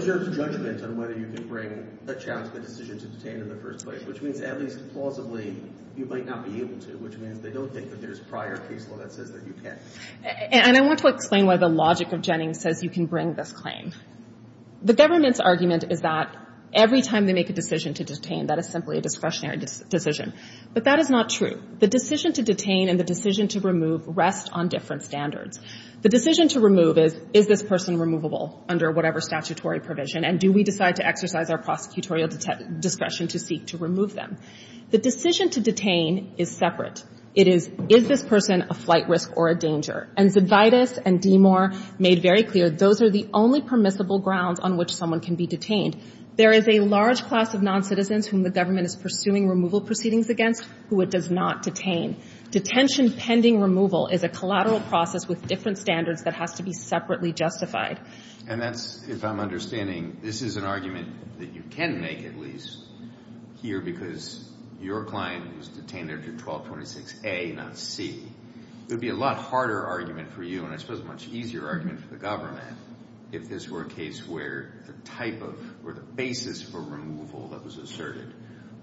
want to explain why the logic of Jennings says you can bring this claim. The government's argument is that every time they make a decision to detain, that is simply a discretionary decision. But that is not true. The decision to detain and the decision to remove rest on different standards. The decision to remove is, is this person removable under whatever statutory provision and do we decide to exercise our prosecutorial discussion to seek to remove them? The decision to detain is separate. It is, is this person a flight risk or a danger? And Zibidis and DeMoore made very clear those are the only permissible grounds on which someone can be detained. There is a large class of noncitizens whom the government is pursuing removal proceedings against who it does not detain. Detention pending removal is a collateral process with different standards that has to be separately justified. And that's, if I'm understanding, this is an argument that you can make at least here because your client was detained under 1226A not C. It would be a lot harder argument for you and I suppose a much easier argument for the government if this were a case where the type of or the basis for removal that was asserted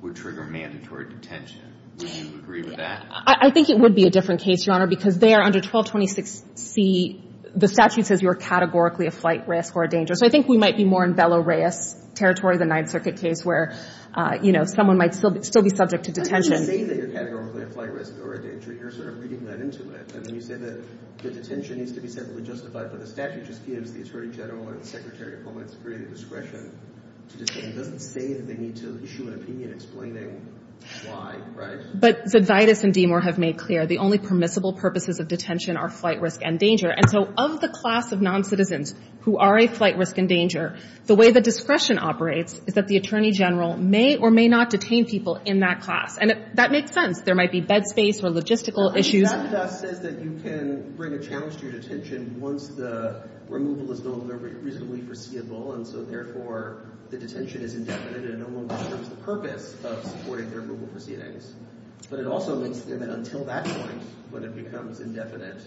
would trigger mandatory detention. Would you agree with that? I think it would be a different case, because there under 1226C the statute says you are categorically a flight risk or a danger. So I think we might be more in Bella Reyes territory, the ninth circuit case where someone might still be subject to detention. You say that you're categorically a flight risk or a danger. You're sort of reading that into it. I mean, you said that the detention needs to be justified but the statute just gives the attorney general and the secretary the discretion to detain them. They need to issue an opinion explaining why, right? But Zydvitas and DeMore have made clear the only permissible purposes of detention are flight risk and danger. And so of the class of non-citizens who are a flight risk and danger, the way the discretion operates is that the attorney general may or may not detain people in that class. And that makes sense. There might be bed space or logistical issues. But Zydvitas says that you can bring a challenge to your detention once the removal is no longer reasonably foreseeable and so therefore the detention is indefinite and no longer serves the purpose of supporting their removal proceedings. But it also means that until that point when it becomes indefinite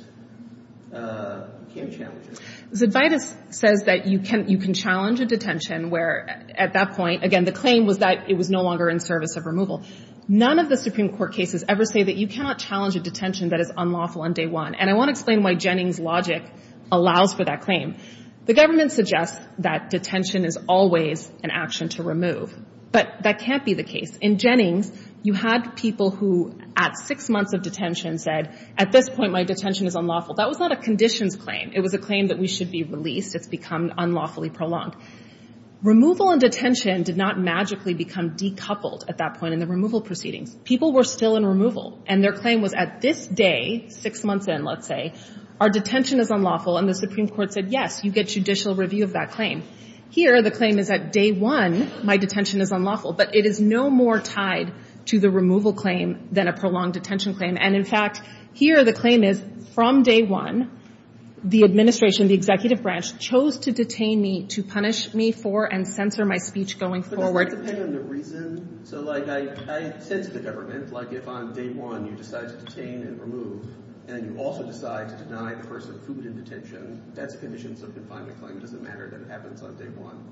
it can be challenging. Zydvitas says that you can challenge a detention where at that point, again, the claim was that it was no longer in service of removal. None of the Supreme Court cases ever say that you cannot challenge a detention that is unlawful on day one. And I want to explain why Jennings' logic allows for that claim. The government suggests that detention is always an action to remove. But that can't be the case. In Jennings, you had people who at six months of detention said, at this point my detention is unlawful. That was not a conditions claim. It was a claim that we should be released if become unlawfully prolonged. Removal and detention did not magically become decoupled at that point in the removal proceeding. People were still in removal and their claim was at this day, six months in, let's say, our detention is unlawful and the Supreme Court said, yes, you get judicial review of that claim. Here, the claim is that day one, my detention is unlawful, but it is no more tied to the removal claim than a prolonged detention claim. And in fact, here the claim is from day one, the administration, the executive branch, chose to detain me to punish me for and censor my speech going forward. So, like, I tend to government, like, if on day one you decide to detain and remove and you also decide to deny the person who's in detention, that's conditions that define the claim as a matter that happens on day one.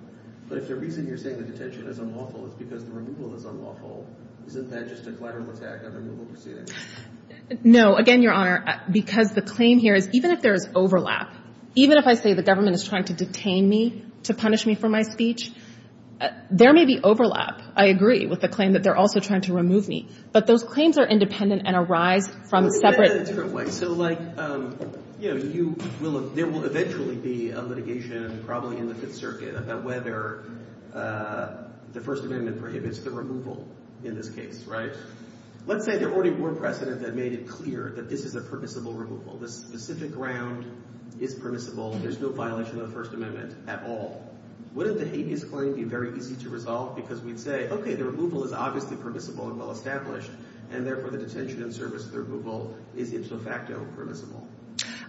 But if the reason you're saying that detention is unlawful is because the removal is unlawful, isn't that just a collateral effect of removal proceedings? Again, Your Honor, because the claim here is even if there is overlap, even if I say the government is trying to detain me to punish me for my speech, there may be overlap. I agree with the claim that they're also trying to remove me. But those claims are independent and arise from separate... In a different way. So, like, you know, there will eventually be a litigation probably in the Fifth Circuit about whether the First Amendment prohibits the removal in this case, right? Let's say there already were precedents that made it clear that this is a permissible removal. This specific ground is permissible. There's no violation of the First Amendment at all. Wouldn't the habeas claim be very easy to resolve because we say, okay, the removal is obviously permissible and well established and therefore the detention and service of the removal is in some fact permissible?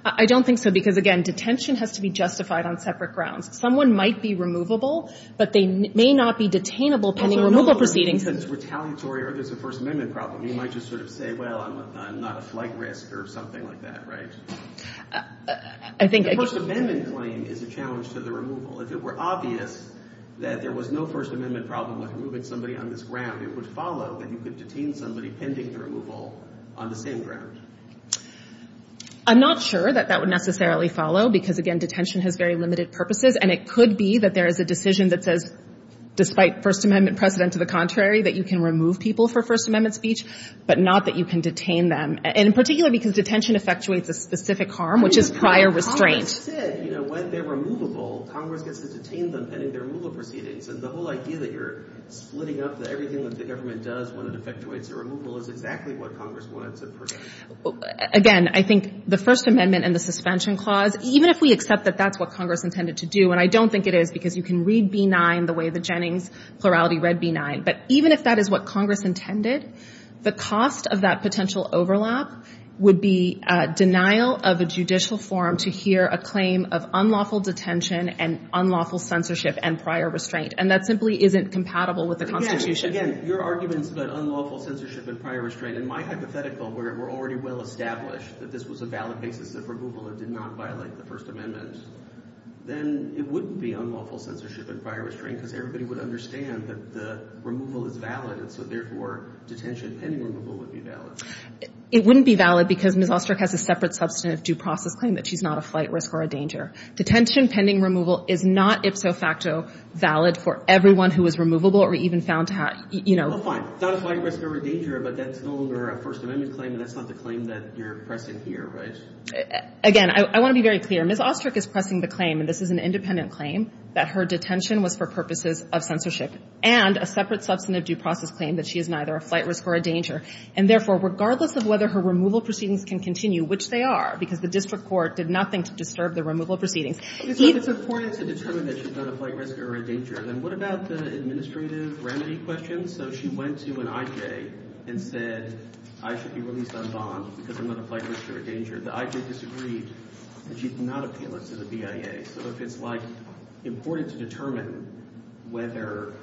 I don't think so because, again, detention has to be justified on separate grounds. Someone might be removable, but they may not be detainable pending removal proceedings. It's retaliatory or there's a First Amendment problem. You might just sort of say, well, I'm not at flight risk or something like that, right? I think... the habeas claim is a challenge to the removal. If it were obvious that there was no First Amendment problem with removing somebody on this ground, it would follow that you could detain somebody pending the removal on the same ground. I'm not sure that that would necessarily follow because, again, detention has very limited purposes and it could be that there is a decision that says, despite First Amendment precedent to the contrary, that you can remove people for First Amendment speech but not that you can detain them. In particular, because detention effectuates a specific harm, which is prior restraint. Congress said, you know, when they're removable, Congress has detained them pending their removal proceedings. So the whole idea that you're splitting up everything that the government does when it effectuates your removal is exactly what Congress wanted to predict. Again, I think the First Amendment and the suspension clause, even if we accept that that's what Congress intended to do, and I don't think it is because you can read B-9 the way the Jennings plurality read B-9, but even if that is what Congress intended, the cost of that potential overlap would be denial of a judicial forum to hear a claim of unlawful detention and unlawful censorship and prior restraint. And that simply isn't compatible with the Constitution. Again, your arguments about unlawful censorship and prior restraint, in my hypothetical, where we're already well established that this was a valid basis of removal that did not violate the First Amendment, then it wouldn't be unlawful censorship and prior restraint if everybody would understand that the removal is valid and so therefore detention and removal would be valid. It wouldn't be valid because Ms. Ostrick has a separate substantive due process claim that she's not a flight risk or a danger. Detention pending removal is not, if so facto, valid for everyone who was removable or even found to have, you know... It's not a flight risk or a danger, but that's no longer a First Amendment claim and that's not the claim that you're pressing here, right? Again, I want to be very clear. Ms. Ostrick is pressing the claim, and this is an independent claim, that her detention was for purposes of censorship and a separate substantive due process claim that she is neither a flight risk or a danger and therefore, regardless of whether her removal proceedings can continue, which they are because the district court did nothing to disturb the removal proceedings... It's important to determine that she's not a flight risk or a danger, then what about the administrative remedy question? So she went to an IJ and said, I should be willing to sign bonds because I'm not a flight risk or a danger. The IJ disagrees that she's not appealant to the BIA, so it's like important to determine whether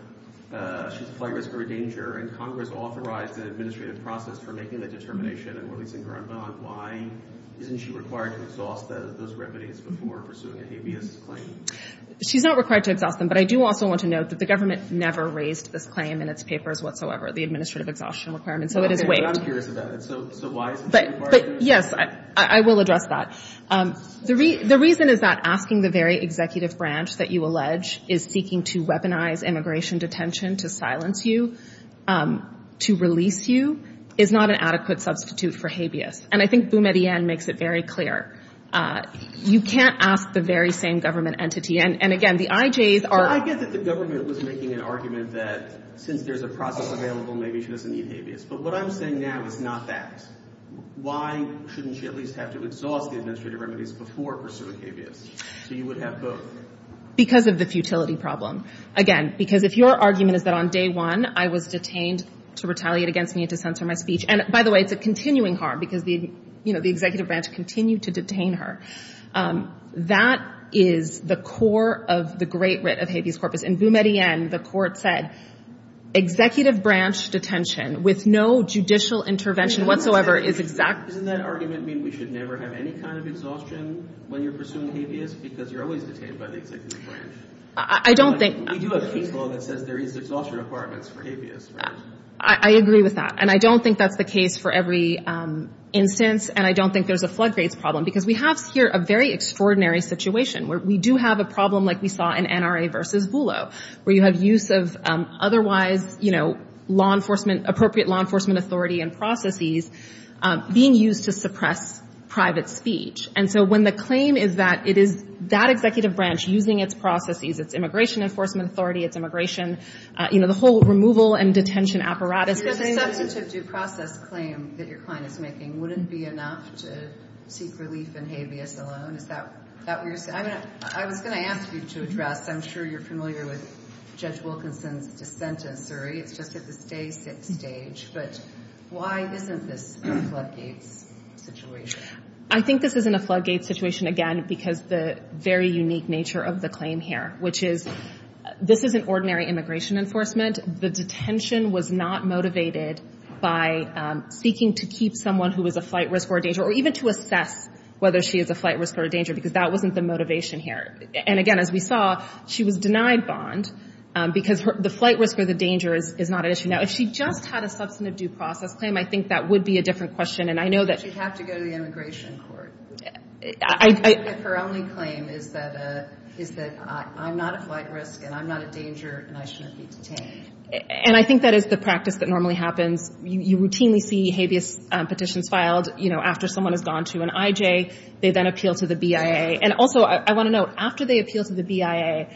she's a flight risk or a danger and Congress authorized an administrative process for making that determination and releasing her on bond. Why isn't she required to absolve those remedies before pursuing an ABM claim? She's not required to absolve them, but I do also want to note that the government never raised this claim in its papers whatsoever, the administrative exhaustion requirement, so it is waived. I'm curious about it. So why is it required? Yes, I will address that. The reason is that asking the very executive branch that you allege is seeking to weaponize immigration detention to silence you to release you is not an adequate substitute for habeas, and I think Boone at the end makes it very clear. You can't ask the very same government entity, and again, the IJs are... I get that the government was making an argument that since there's a process available, maybe she doesn't need habeas, but what I'm saying now is not that. Why shouldn't she at least have to absolve the administrative remedies before pursuing habeas so you would have both? Because of the futility problem. Again, because if your argument is that on day one I was detained to retaliate against me to censor my speech, and by the way, it's a continuing harm because the executive branch continued to detain her. That is the core of the great writ of habeas corpus, and Boone at the end, the court said, executive branch detention with no judicial intervention whatsoever is exactly... Doesn't that argument mean we should never have any kind of exhaustion when you're pursuing habeas because you're always detained by the executive branch? I don't think... We do have state law that says there is exhaustion requirements for habeas, right? I agree with that, and I don't think that's the case for every instance, and I don't think there's a floodgate problem because we have here a very extraordinary situation where we do have a problem like we saw in NRA versus BULO where you have use of otherwise, you know, law enforcement, appropriate law enforcement authority and processes being used to suppress private speech, and so when the claim is that it is that executive branch using its processes, its immigration enforcement authority, its immigration, you know, the whole removal and detention apparatus of that... that it's a due process claim that your client is making wouldn't be enough to seek relief in habeas alone? Is that what you're saying? I was going to ask you to address... I'm sure you're familiar with Judge Wilkinson's dissent in Surrey. It's just that the state gets engaged, but why isn't this a floodgate situation? I think this isn't a floodgate situation, again, because the very unique nature of the claim here, which is this isn't ordinary immigration enforcement. The detention was not motivated by seeking to keep someone who was a flight risk or a danger, or even to assess whether she is a flight risk or a danger, because that wasn't the motivation here. And again, as we saw, she was denied bond because the flight risk or the danger is not an issue. Now, if she just had a substantive due process claim, I think that would be a different question, and I know that... She'd have to go to the immigration court. I... Her only claim is that... She said, I'm not a flight risk and I'm not a danger and I shouldn't be detained. And I think that is the practice that normally happens. You routinely see habeas petitions filed, you know, after someone has gone to an IJ. They then appeal to the BIA. And also, I want to note, after they appeal to the BIA,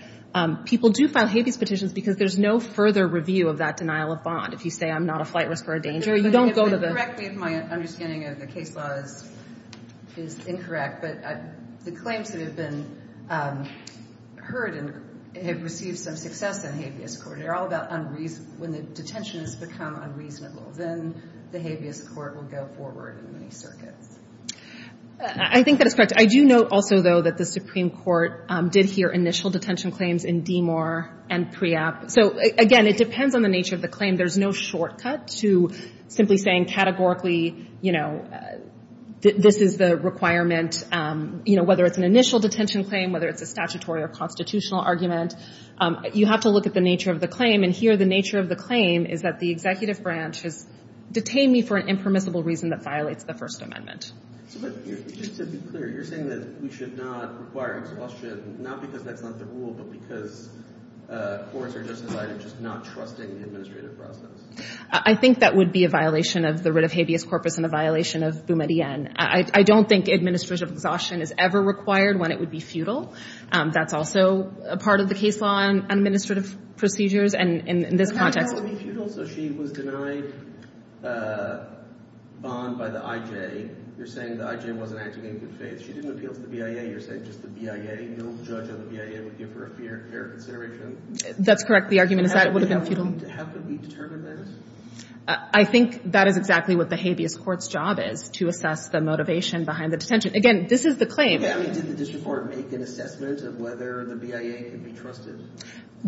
people do file habeas petitions because there's no further review of that denial of bond. If you say, I'm not a flight risk or a danger, you don't go to the... Correct me if my mispronunciation is wrong. If the claims that have been heard and have received some success in habeas court, they're all about unreason... When the detention has become unreasonable, then the habeas court will go forward in the circuit. I think that's correct. I do note also, that the Supreme Court did hear initial detention claims in DMOR and PREOP. So, again, it depends on the nature of the claim. There's no shortcut to simply saying, categorically, you know, this is the requirement, you know, whether it's an initial detention claim, whether it's a statutory or constitutional argument. You have to look at the nature of the claim and here, the nature of the claim is that the executive branch has detained me for an impermissible reason that violates the First Amendment. I think that would be a violation of the writ of habeas corpus and a violation of Boumediene. I don't think administrative exhaustion is ever required when it would be futile. That's also a part of the case law and administrative procedures in this context. That's correct. The argument is that it would have been futile. I think that is exactly what the habeas court's job is, to assess the motivation behind the detention. Again, this is the claim. The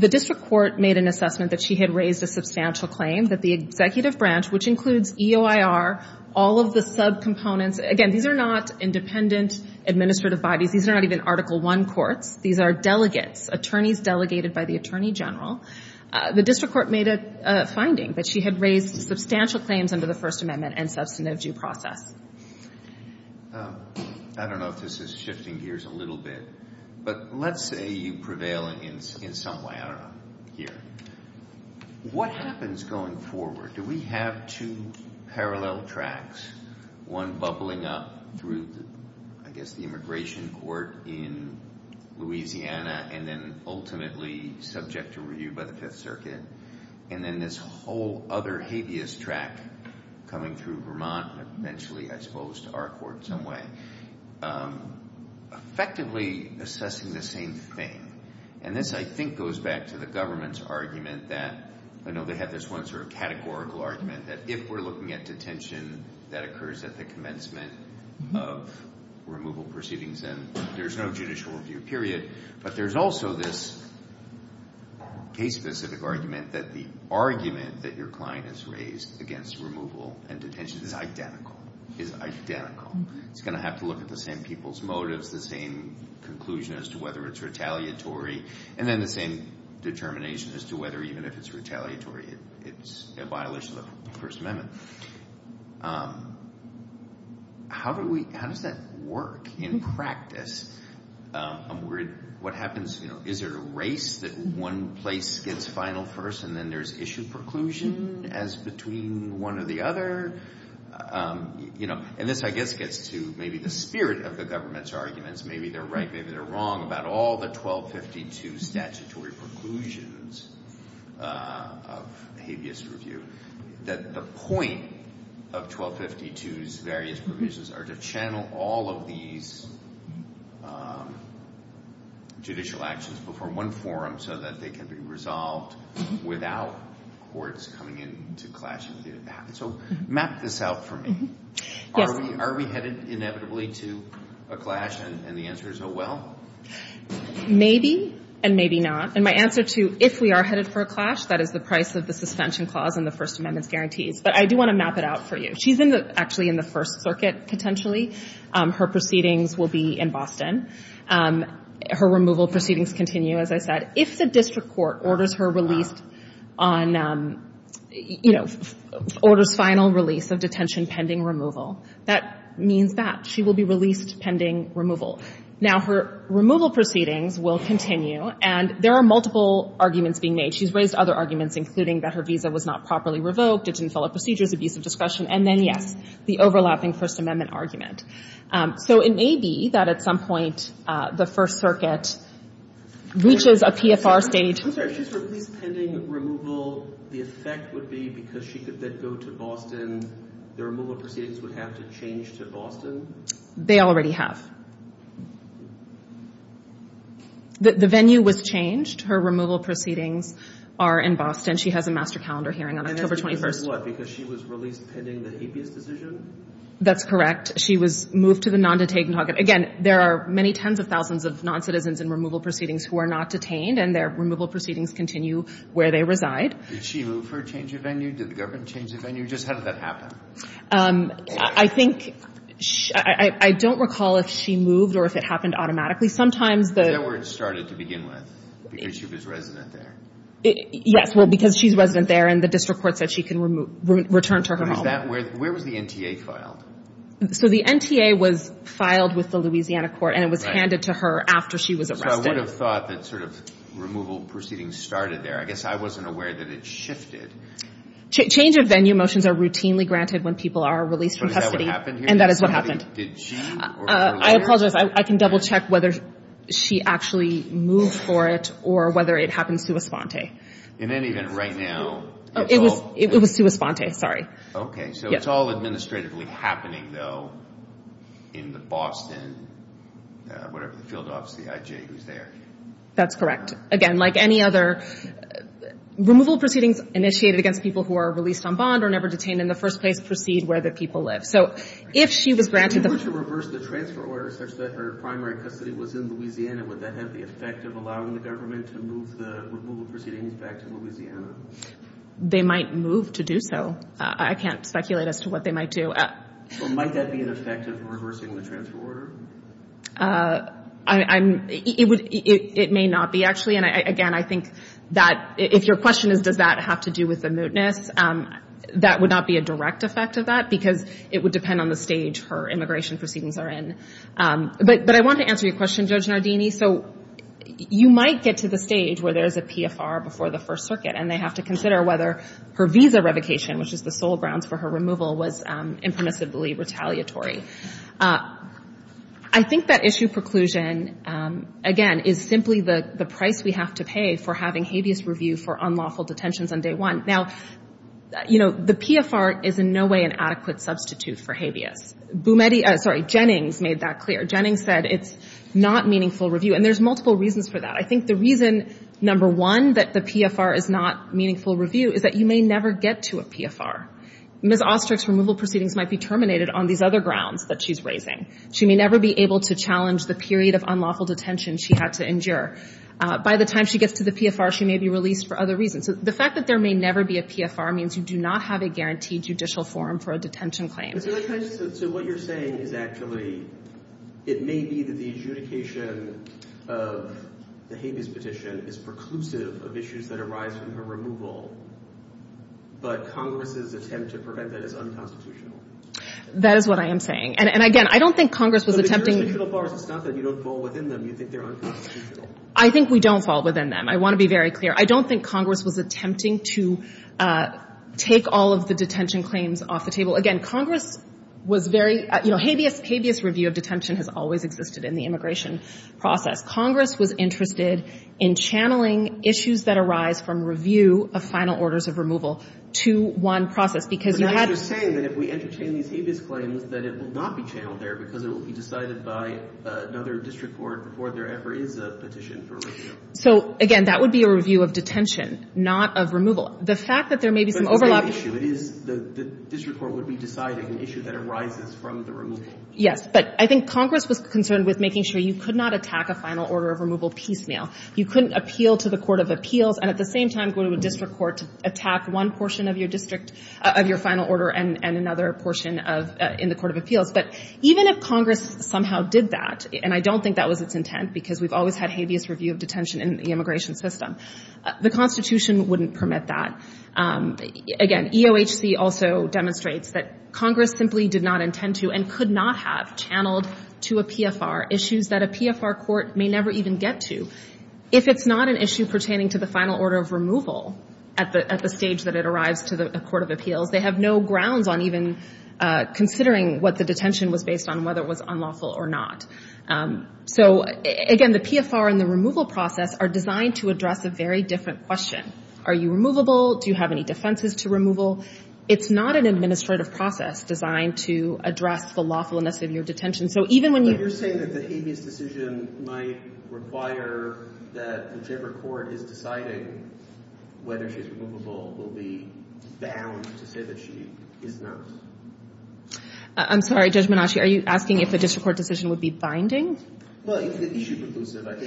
district court made an assessment that she had raised a substantial claim that the executive branch, which includes EOIR, all of the sub-components, again, these are not independent administrative bodies. These are not even Article I courts. These are delegates, attorneys delegated by the Attorney General. The district court made a finding that she had raised substantial claims under the First Amendment and thus, in the due process. I don't know if this is shifting gears a little bit, but let's say you prevail in some way, I don't know, here. What happens going forward? Do we have two parallel tracks? One bubbling up through, I guess, the immigration court in Louisiana and then ultimately subject to review by the Fifth Circuit and then this whole other habeas track coming through Vermont and eventually exposed to our court in some way. Effectively assessing the same thing and this, I think, goes back to the government's argument that, I know they had this one sort of categorical argument that if we're looking at detention that occurs at the commencement of removal proceedings and there's no judicial review, period, but there's also this case-specific argument that the argument that your client has raised against removal and detention is identical. It's going to have to look at the same people's motives, the same conclusion as to whether it's retaliatory and then the same determination as to whether even if it's retaliatory it violates the First Amendment. How does that work in practice? What happens, is there a race that one place gets final first and then there's issue preclusion as between one or the other? And this I guess gets to maybe the spirit of the government's arguments. Maybe they're right, maybe they're wrong about all the 1252 statutory preclusions of habeas review. That the point of 1252's various provisions are to channel all of these judicial actions before one forum so that they can be resolved without courts coming into clashes. So map this out for me. Are we headed inevitably to a clash and the answer is a well? Maybe and maybe not. And my answer to if we are headed for a clash, that is the price of the suspension clause and the First Amendment guarantees. But I do want to map it out for you. She's actually in the First Circuit potentially. Her proceedings will be in Boston. Her removal proceedings continue as I said. If the district court orders her release on final release of detention pending removal, that means that. She will be released pending removal. Now her removal proceedings will continue and there are multiple arguments being made. She's raised other arguments including that her visa was not in Boston. released pending removal. The effect would be because she could then go to the removal proceedings would have to change to Boston? They already have. The venue was changed. Her removal proceedings are in She has a master calendar hearing on October 21. Because she was released from detention pending the APS decision? That's correct. There are many tens of of noncitizens who are not detained. I don't recall if she moved or if it happened automatically. Because she was resident there? Yes. Because she's resident there and the district court said she can return to her home. Where was the NTA filed? The NTA was filed with the Louisiana court. I wasn't aware that it shifted. Change of venue motions are routinely granted when people are released. I can double-check whether she actually moved for it or whether it happened right now. It's all administratively in the Boston field office. That's correct. Again, like any other removal proceedings initiated against people who are released on bond or never detained in the first place proceed where the people live. If she was granted the transfer order, would that have the effect of allowing the government to move it? They might move to do so. I can't speculate as to what they might do. Might that be an effect? It may not be. If your question is does that have to do with the immigration proceedings that are in, but I want to answer your question. You might get to the stage where there's a PFR before the first circuit. I think that issue preclusion is simply the price we have to pay for having review for unlawful detentions. The PFR is in no way an obstacle Jennings made that clear. There's multiple reasons for I think the reason number one is that you may never get to a PFR. She may never be able to the period of unlawful detention she has to endure. By the time she gets to the PFR she may be released for other reasons. The fact that there may never be a PFR means you do not have a judicial forum for a detention claim. It may be that the adjudication of the petition is preclusive of issues that arise from her removal, but Congress's attempt to prevent that is unconstitutional. That is what I am saying. I think we don't fall within them. I want to be very clear. I don't think Congress was attempting to take all of the detention claims off the table. was interested in channeling issues that arise from review of final orders of removal to one process. Again, that would be a review of not of removal. The fact that there may be some overlap between issue. It is an issue that arises from the removal. I think Congress was concerned with making sure you could not appeal to the court of appeals and go to the court to attack one portion of your final order and another portion in the court of Even if Congress somehow did that, the Constitution wouldn't permit that. Congress simply did not intend to and could not have channeled to a PFR. If it is not an issue pertaining to final order of they have no grounds on considering what the detention was based on. Again, the PFR and the process are designed to address a different question. Are you removable? Do you have any defenses to removal? It is not an administrative process designed to address the loss of your detention. I'm sorry, are you asking if the court decision would be binding? Again,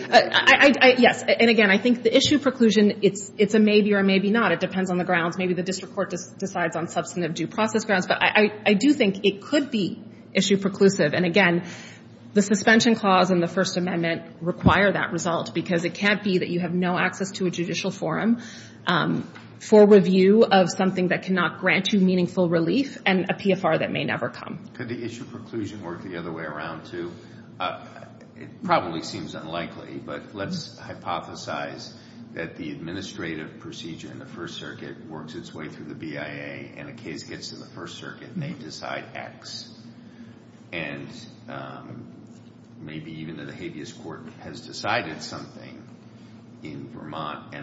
I think if the issue preclusion is a maybe or maybe not, it depends on the grounds. I do think it could be issue preclusive. Again, the suspension clause in the first amendment requires that result. It can't be that you have no access to a judicial forum for review of something that cannot grant you meaningful relief and a PFR that may never come. Could the issue preclusion work the other way around, It probably seems unlikely, but let's hypothesize that the procedure in the first circuit works its way through the first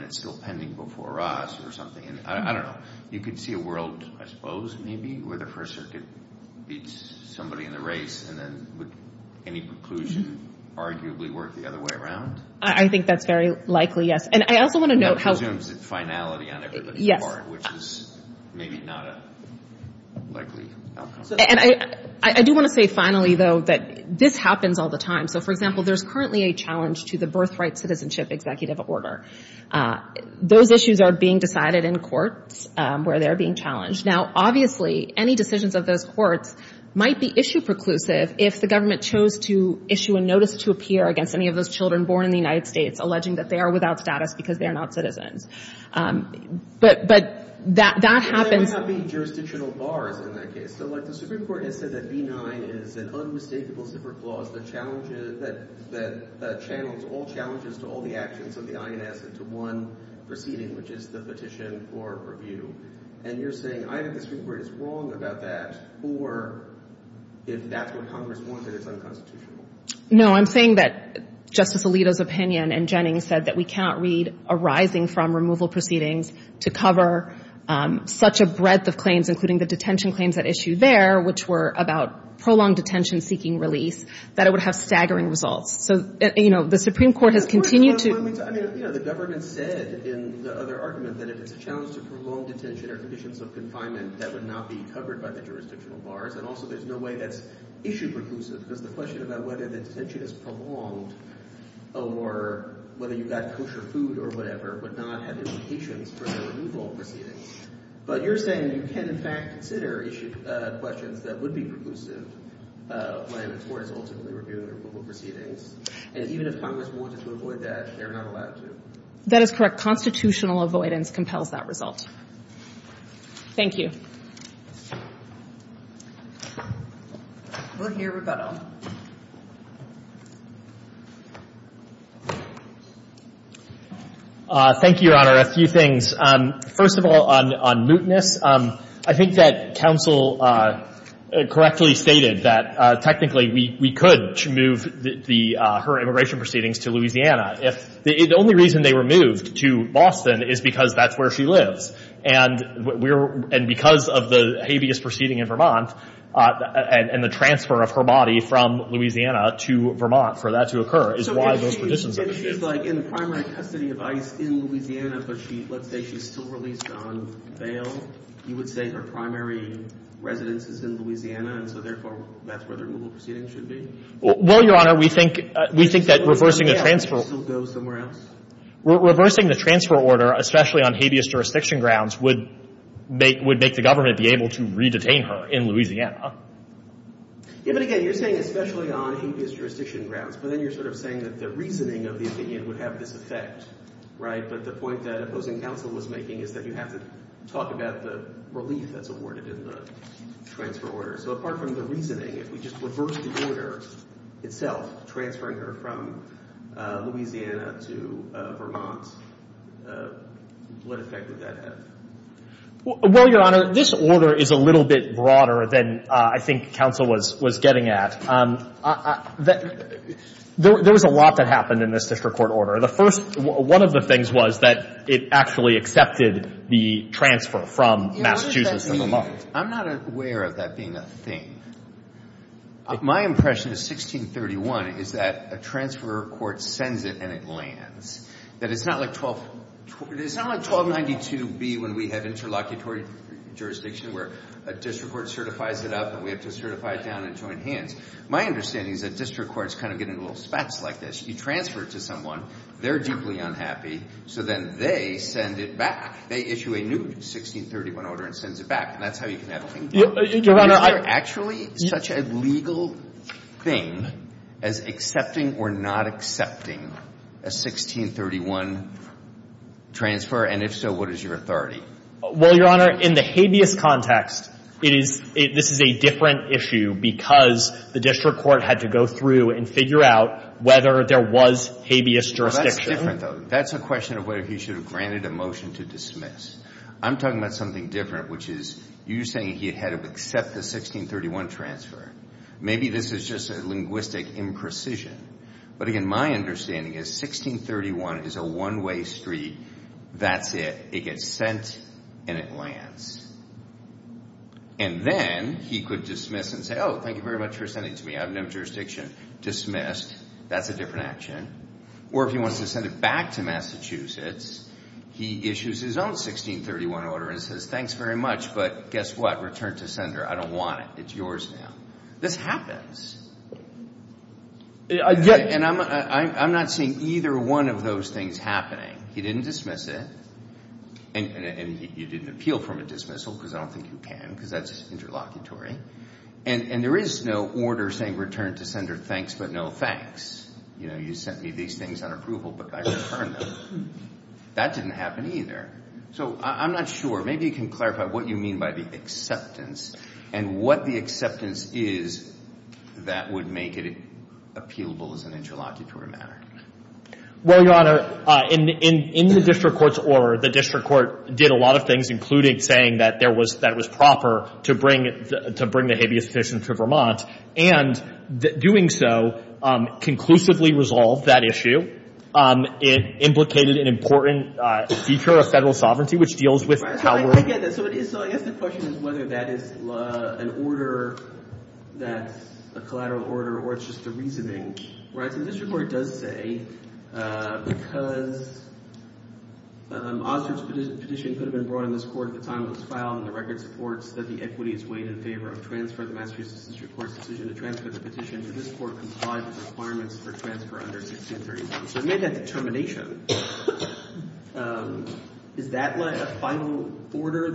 it's still pending before us. You could see a world, I where the first circuit beats somebody in the race. Would any preclusion arguably work the other way around? I do want to say finally that this happens all the time. For example, there's currently a challenge to the birth rights citizenship executive order. Those issues are being decided in court. Now, obviously, any decisions of those courts might be issue preclusive if the government chose to issue a notice to appear against any of those children born in the United States because they're not citizens. But that happens. Supreme Court said that B-9 is an unmistakable super clause that channels all challenges to all the actions of the I.N.S. to one proceeding which is the petition for review. You're saying I.N.S. is wrong about that or is that what Congress wants and it's unconstitutional? No, I'm saying that Justice Alito's and Jennings said that we can't read arising from removal proceedings to cover such a of claims that would not be covered by the jurisdictional bars and there's no way to issue preclusives because the question about whether the extension is prolonged or whether you've got kosher food or whatever would not have implications for the removal proceedings. You're saying you can in fact issue questions that would be when it's ultimately removed proceedings and even if Congress wanted to avoid that they're not allowed to. That is correct. Constitutional avoidance compels that result. Thank you. We're here with Donald. Thank you Your Honor. A few things. First of all on mootness. I think that counsel correctly stated that technically we could move her immigration proceedings to Louisiana. The only reason they were moved to Boston is because that's where she lives and because of the habeas proceeding in Vermont and the transfer of her body to Vermont for that to she was still released on bail you would say her primary residence is in Louisiana and therefore that's where the removal proceedings should be? We think that reversing the transfer order especially on habeas jurisdiction grounds would make the government able to re-detain her in Louisiana. You're saying especially on habeas jurisdiction grounds but you're saying the reasoning would have this effect. But the point that opposing counsel was making is that you have to talk about the relief that's awarded. So apart from the reasoning if we just reverse the order itself transferring her from Louisiana to Vermont what effect would that have? Well your honor this order is a little bit broader than I think counsel was getting at. There was a lot that happened in this district court order. One of the things was that it actually accepted the transfer from Massachusetts to Vermont. I'm not aware of that being a thing. My impression is that 1631 is that a transfer court sends it and it lands. It's not like 1292B where a district court certifies it up and we have to certify it down in joint hands. My understanding is that you have to thing as accepting or not accepting a 1631 transfer and if so what is your authority? Well your honor in the habeas context this is a different issue because the district court had to go through and figure out whether there was habeas jurisdiction. That's a question of whether he should have granted a motion to I'm talking about something different which is you saying he had to accept the 1631 transfer. Maybe this is just a imprecision. But my understanding is 1631 is a different action. Or if he wants to send it back to he issues his own 1631 order and says thanks very much but return to sender. I don't want it. It's yours now. This happens. And I'm not seeing either one of those things happening. He didn't dismiss it and you didn't appeal from a dismissal because I don't think you can. And there is no order saying return to sender thanks but no thanks. That didn't happen either. So I'm not sure. Maybe you can clarify what you mean by the acceptance and what the acceptance is that would make it appealable as an interlocutory matter. In the district court's order, the district court did a lot of things including saying that it was proper to bring the habeas fiction to And doing so, conclusively resolved that issue. It implicated an important feature of federal sovereignty which deals with Calgary. So I guess the question is whether that is an order, a collateral order or just a reasoning. This report does say because this petition could have been brought to this court and the records report said the equity is in favor of transferring the petition to this court. Is that a final order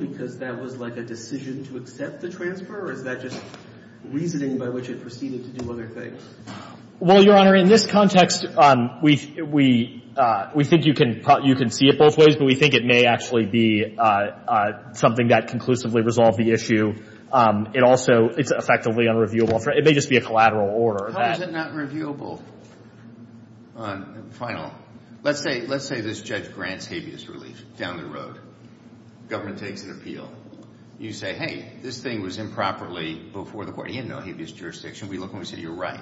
because that was like a decision to accept the transfer or is that just reasoning by which it proceeded to do other things? In this context, we think you can see it both ways but we think it may actually be something that conclusively resolved the It may just be a collateral order. How is it not reviewable? Let's say this judge grants habeas relief down the road. You say hey, this thing was improperly before the court. We look and say you're right.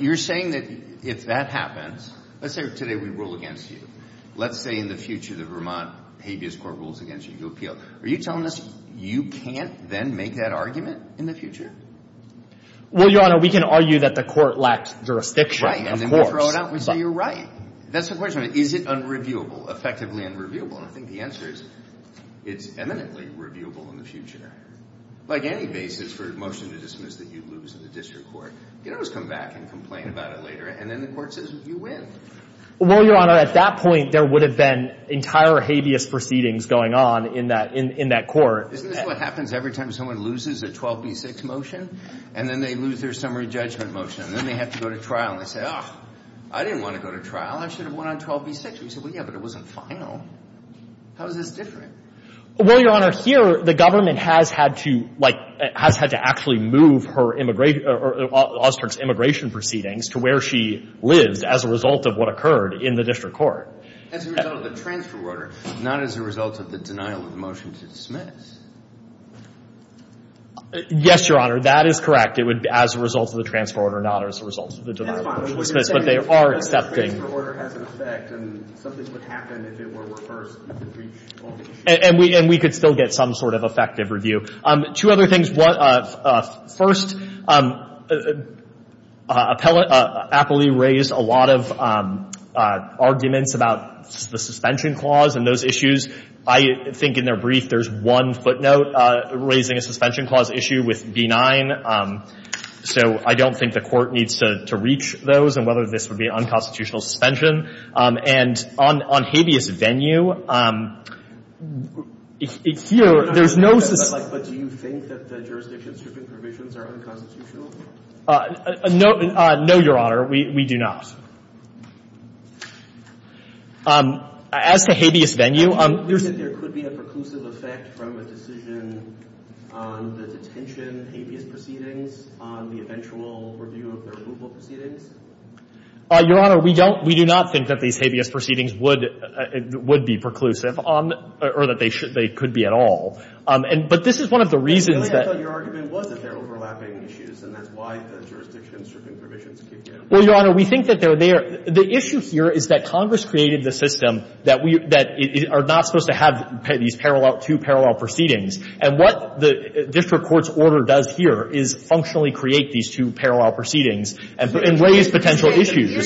You're saying if that happens, let's say today we rule against you. Let's say in the future the Vermont habeas court rules against you. Are you telling us you can't make that argument in the future? We can argue that the court lacks jurisdiction. Is it effectively unreviewable? I think the answer is it's eminently reviewable in the future. You can always come back and complain about it later and then the court says you win. point there would have been entire habeas proceedings going on in that court. This is what happens every time someone loses a 12B6 motion and then they lose their summary judgment motion and then they have to go to trial. I didn't get that I think we can I think there is one footnote raising a clause issue with D9 so I don't think the court needs to reach those and whether this would be unconstitutional suspension. On habeas venue, there is no But do you think that the jurisdictions are unconstitutional? No, Your We do not. As to habeas venue There could be a preclusive effect from a decision on the detention proceedings on the eventual review of the proceedings? Your Honor, we do not think that these proceedings would be preclusive or that they could be at all. But this is one of the reasons Your Honor, we think that the issue here is that Congress created the system that we are not supposed to have these two parallel proceedings and what the district court's order does here is functionally to create these two parallel proceedings and raise potential issues.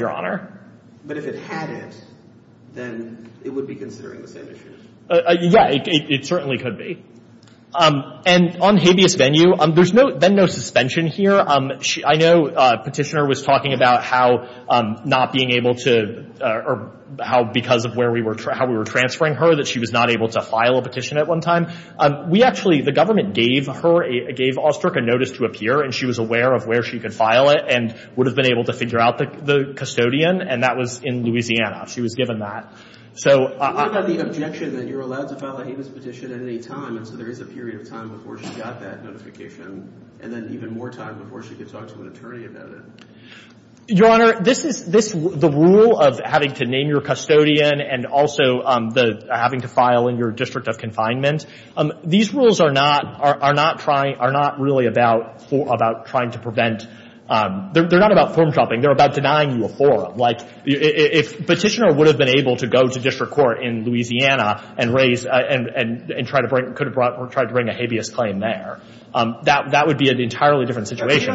Your Honor, but if it had it, then it would be considered as preclusive issue? Yes, it certainly could be. On habeas venue, there is no suspension here. I know petitioner was talking about how not being able to or how because of where we were transferring her that she was not able to file a petition at one time. The government gave her a notice to appear and she was aware of where she could file it and would have been able to file it Your Honor, the rule of having to name your custodian and also having to file in your district of confinement, these rules are not really about trying to prevent they are not about denying you a forum. If petitioner would have been able to go to district of and try to bring a habeas claim there, that would be an entirely different situation.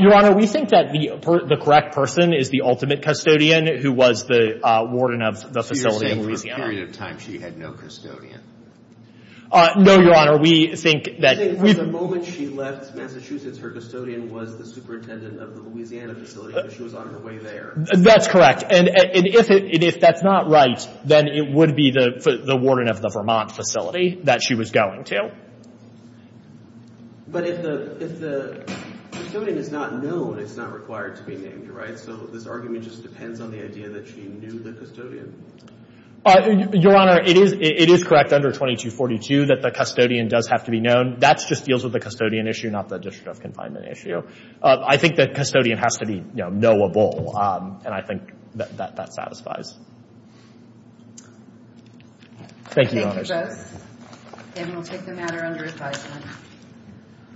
Your Honor, we think that the correct person is the ultimate custodian who was the warden of the facility. No, Your we think that the ultimate custodian left Massachusetts, her was the superintendent of the facility. If that is not right, it would be the warden of the facility that she was going to. But if the custodian is not known, it is not required to be named. Your Honor, it is correct under 2242 that the custodian has to be known. I think that custodian has to be knowable. Thank you.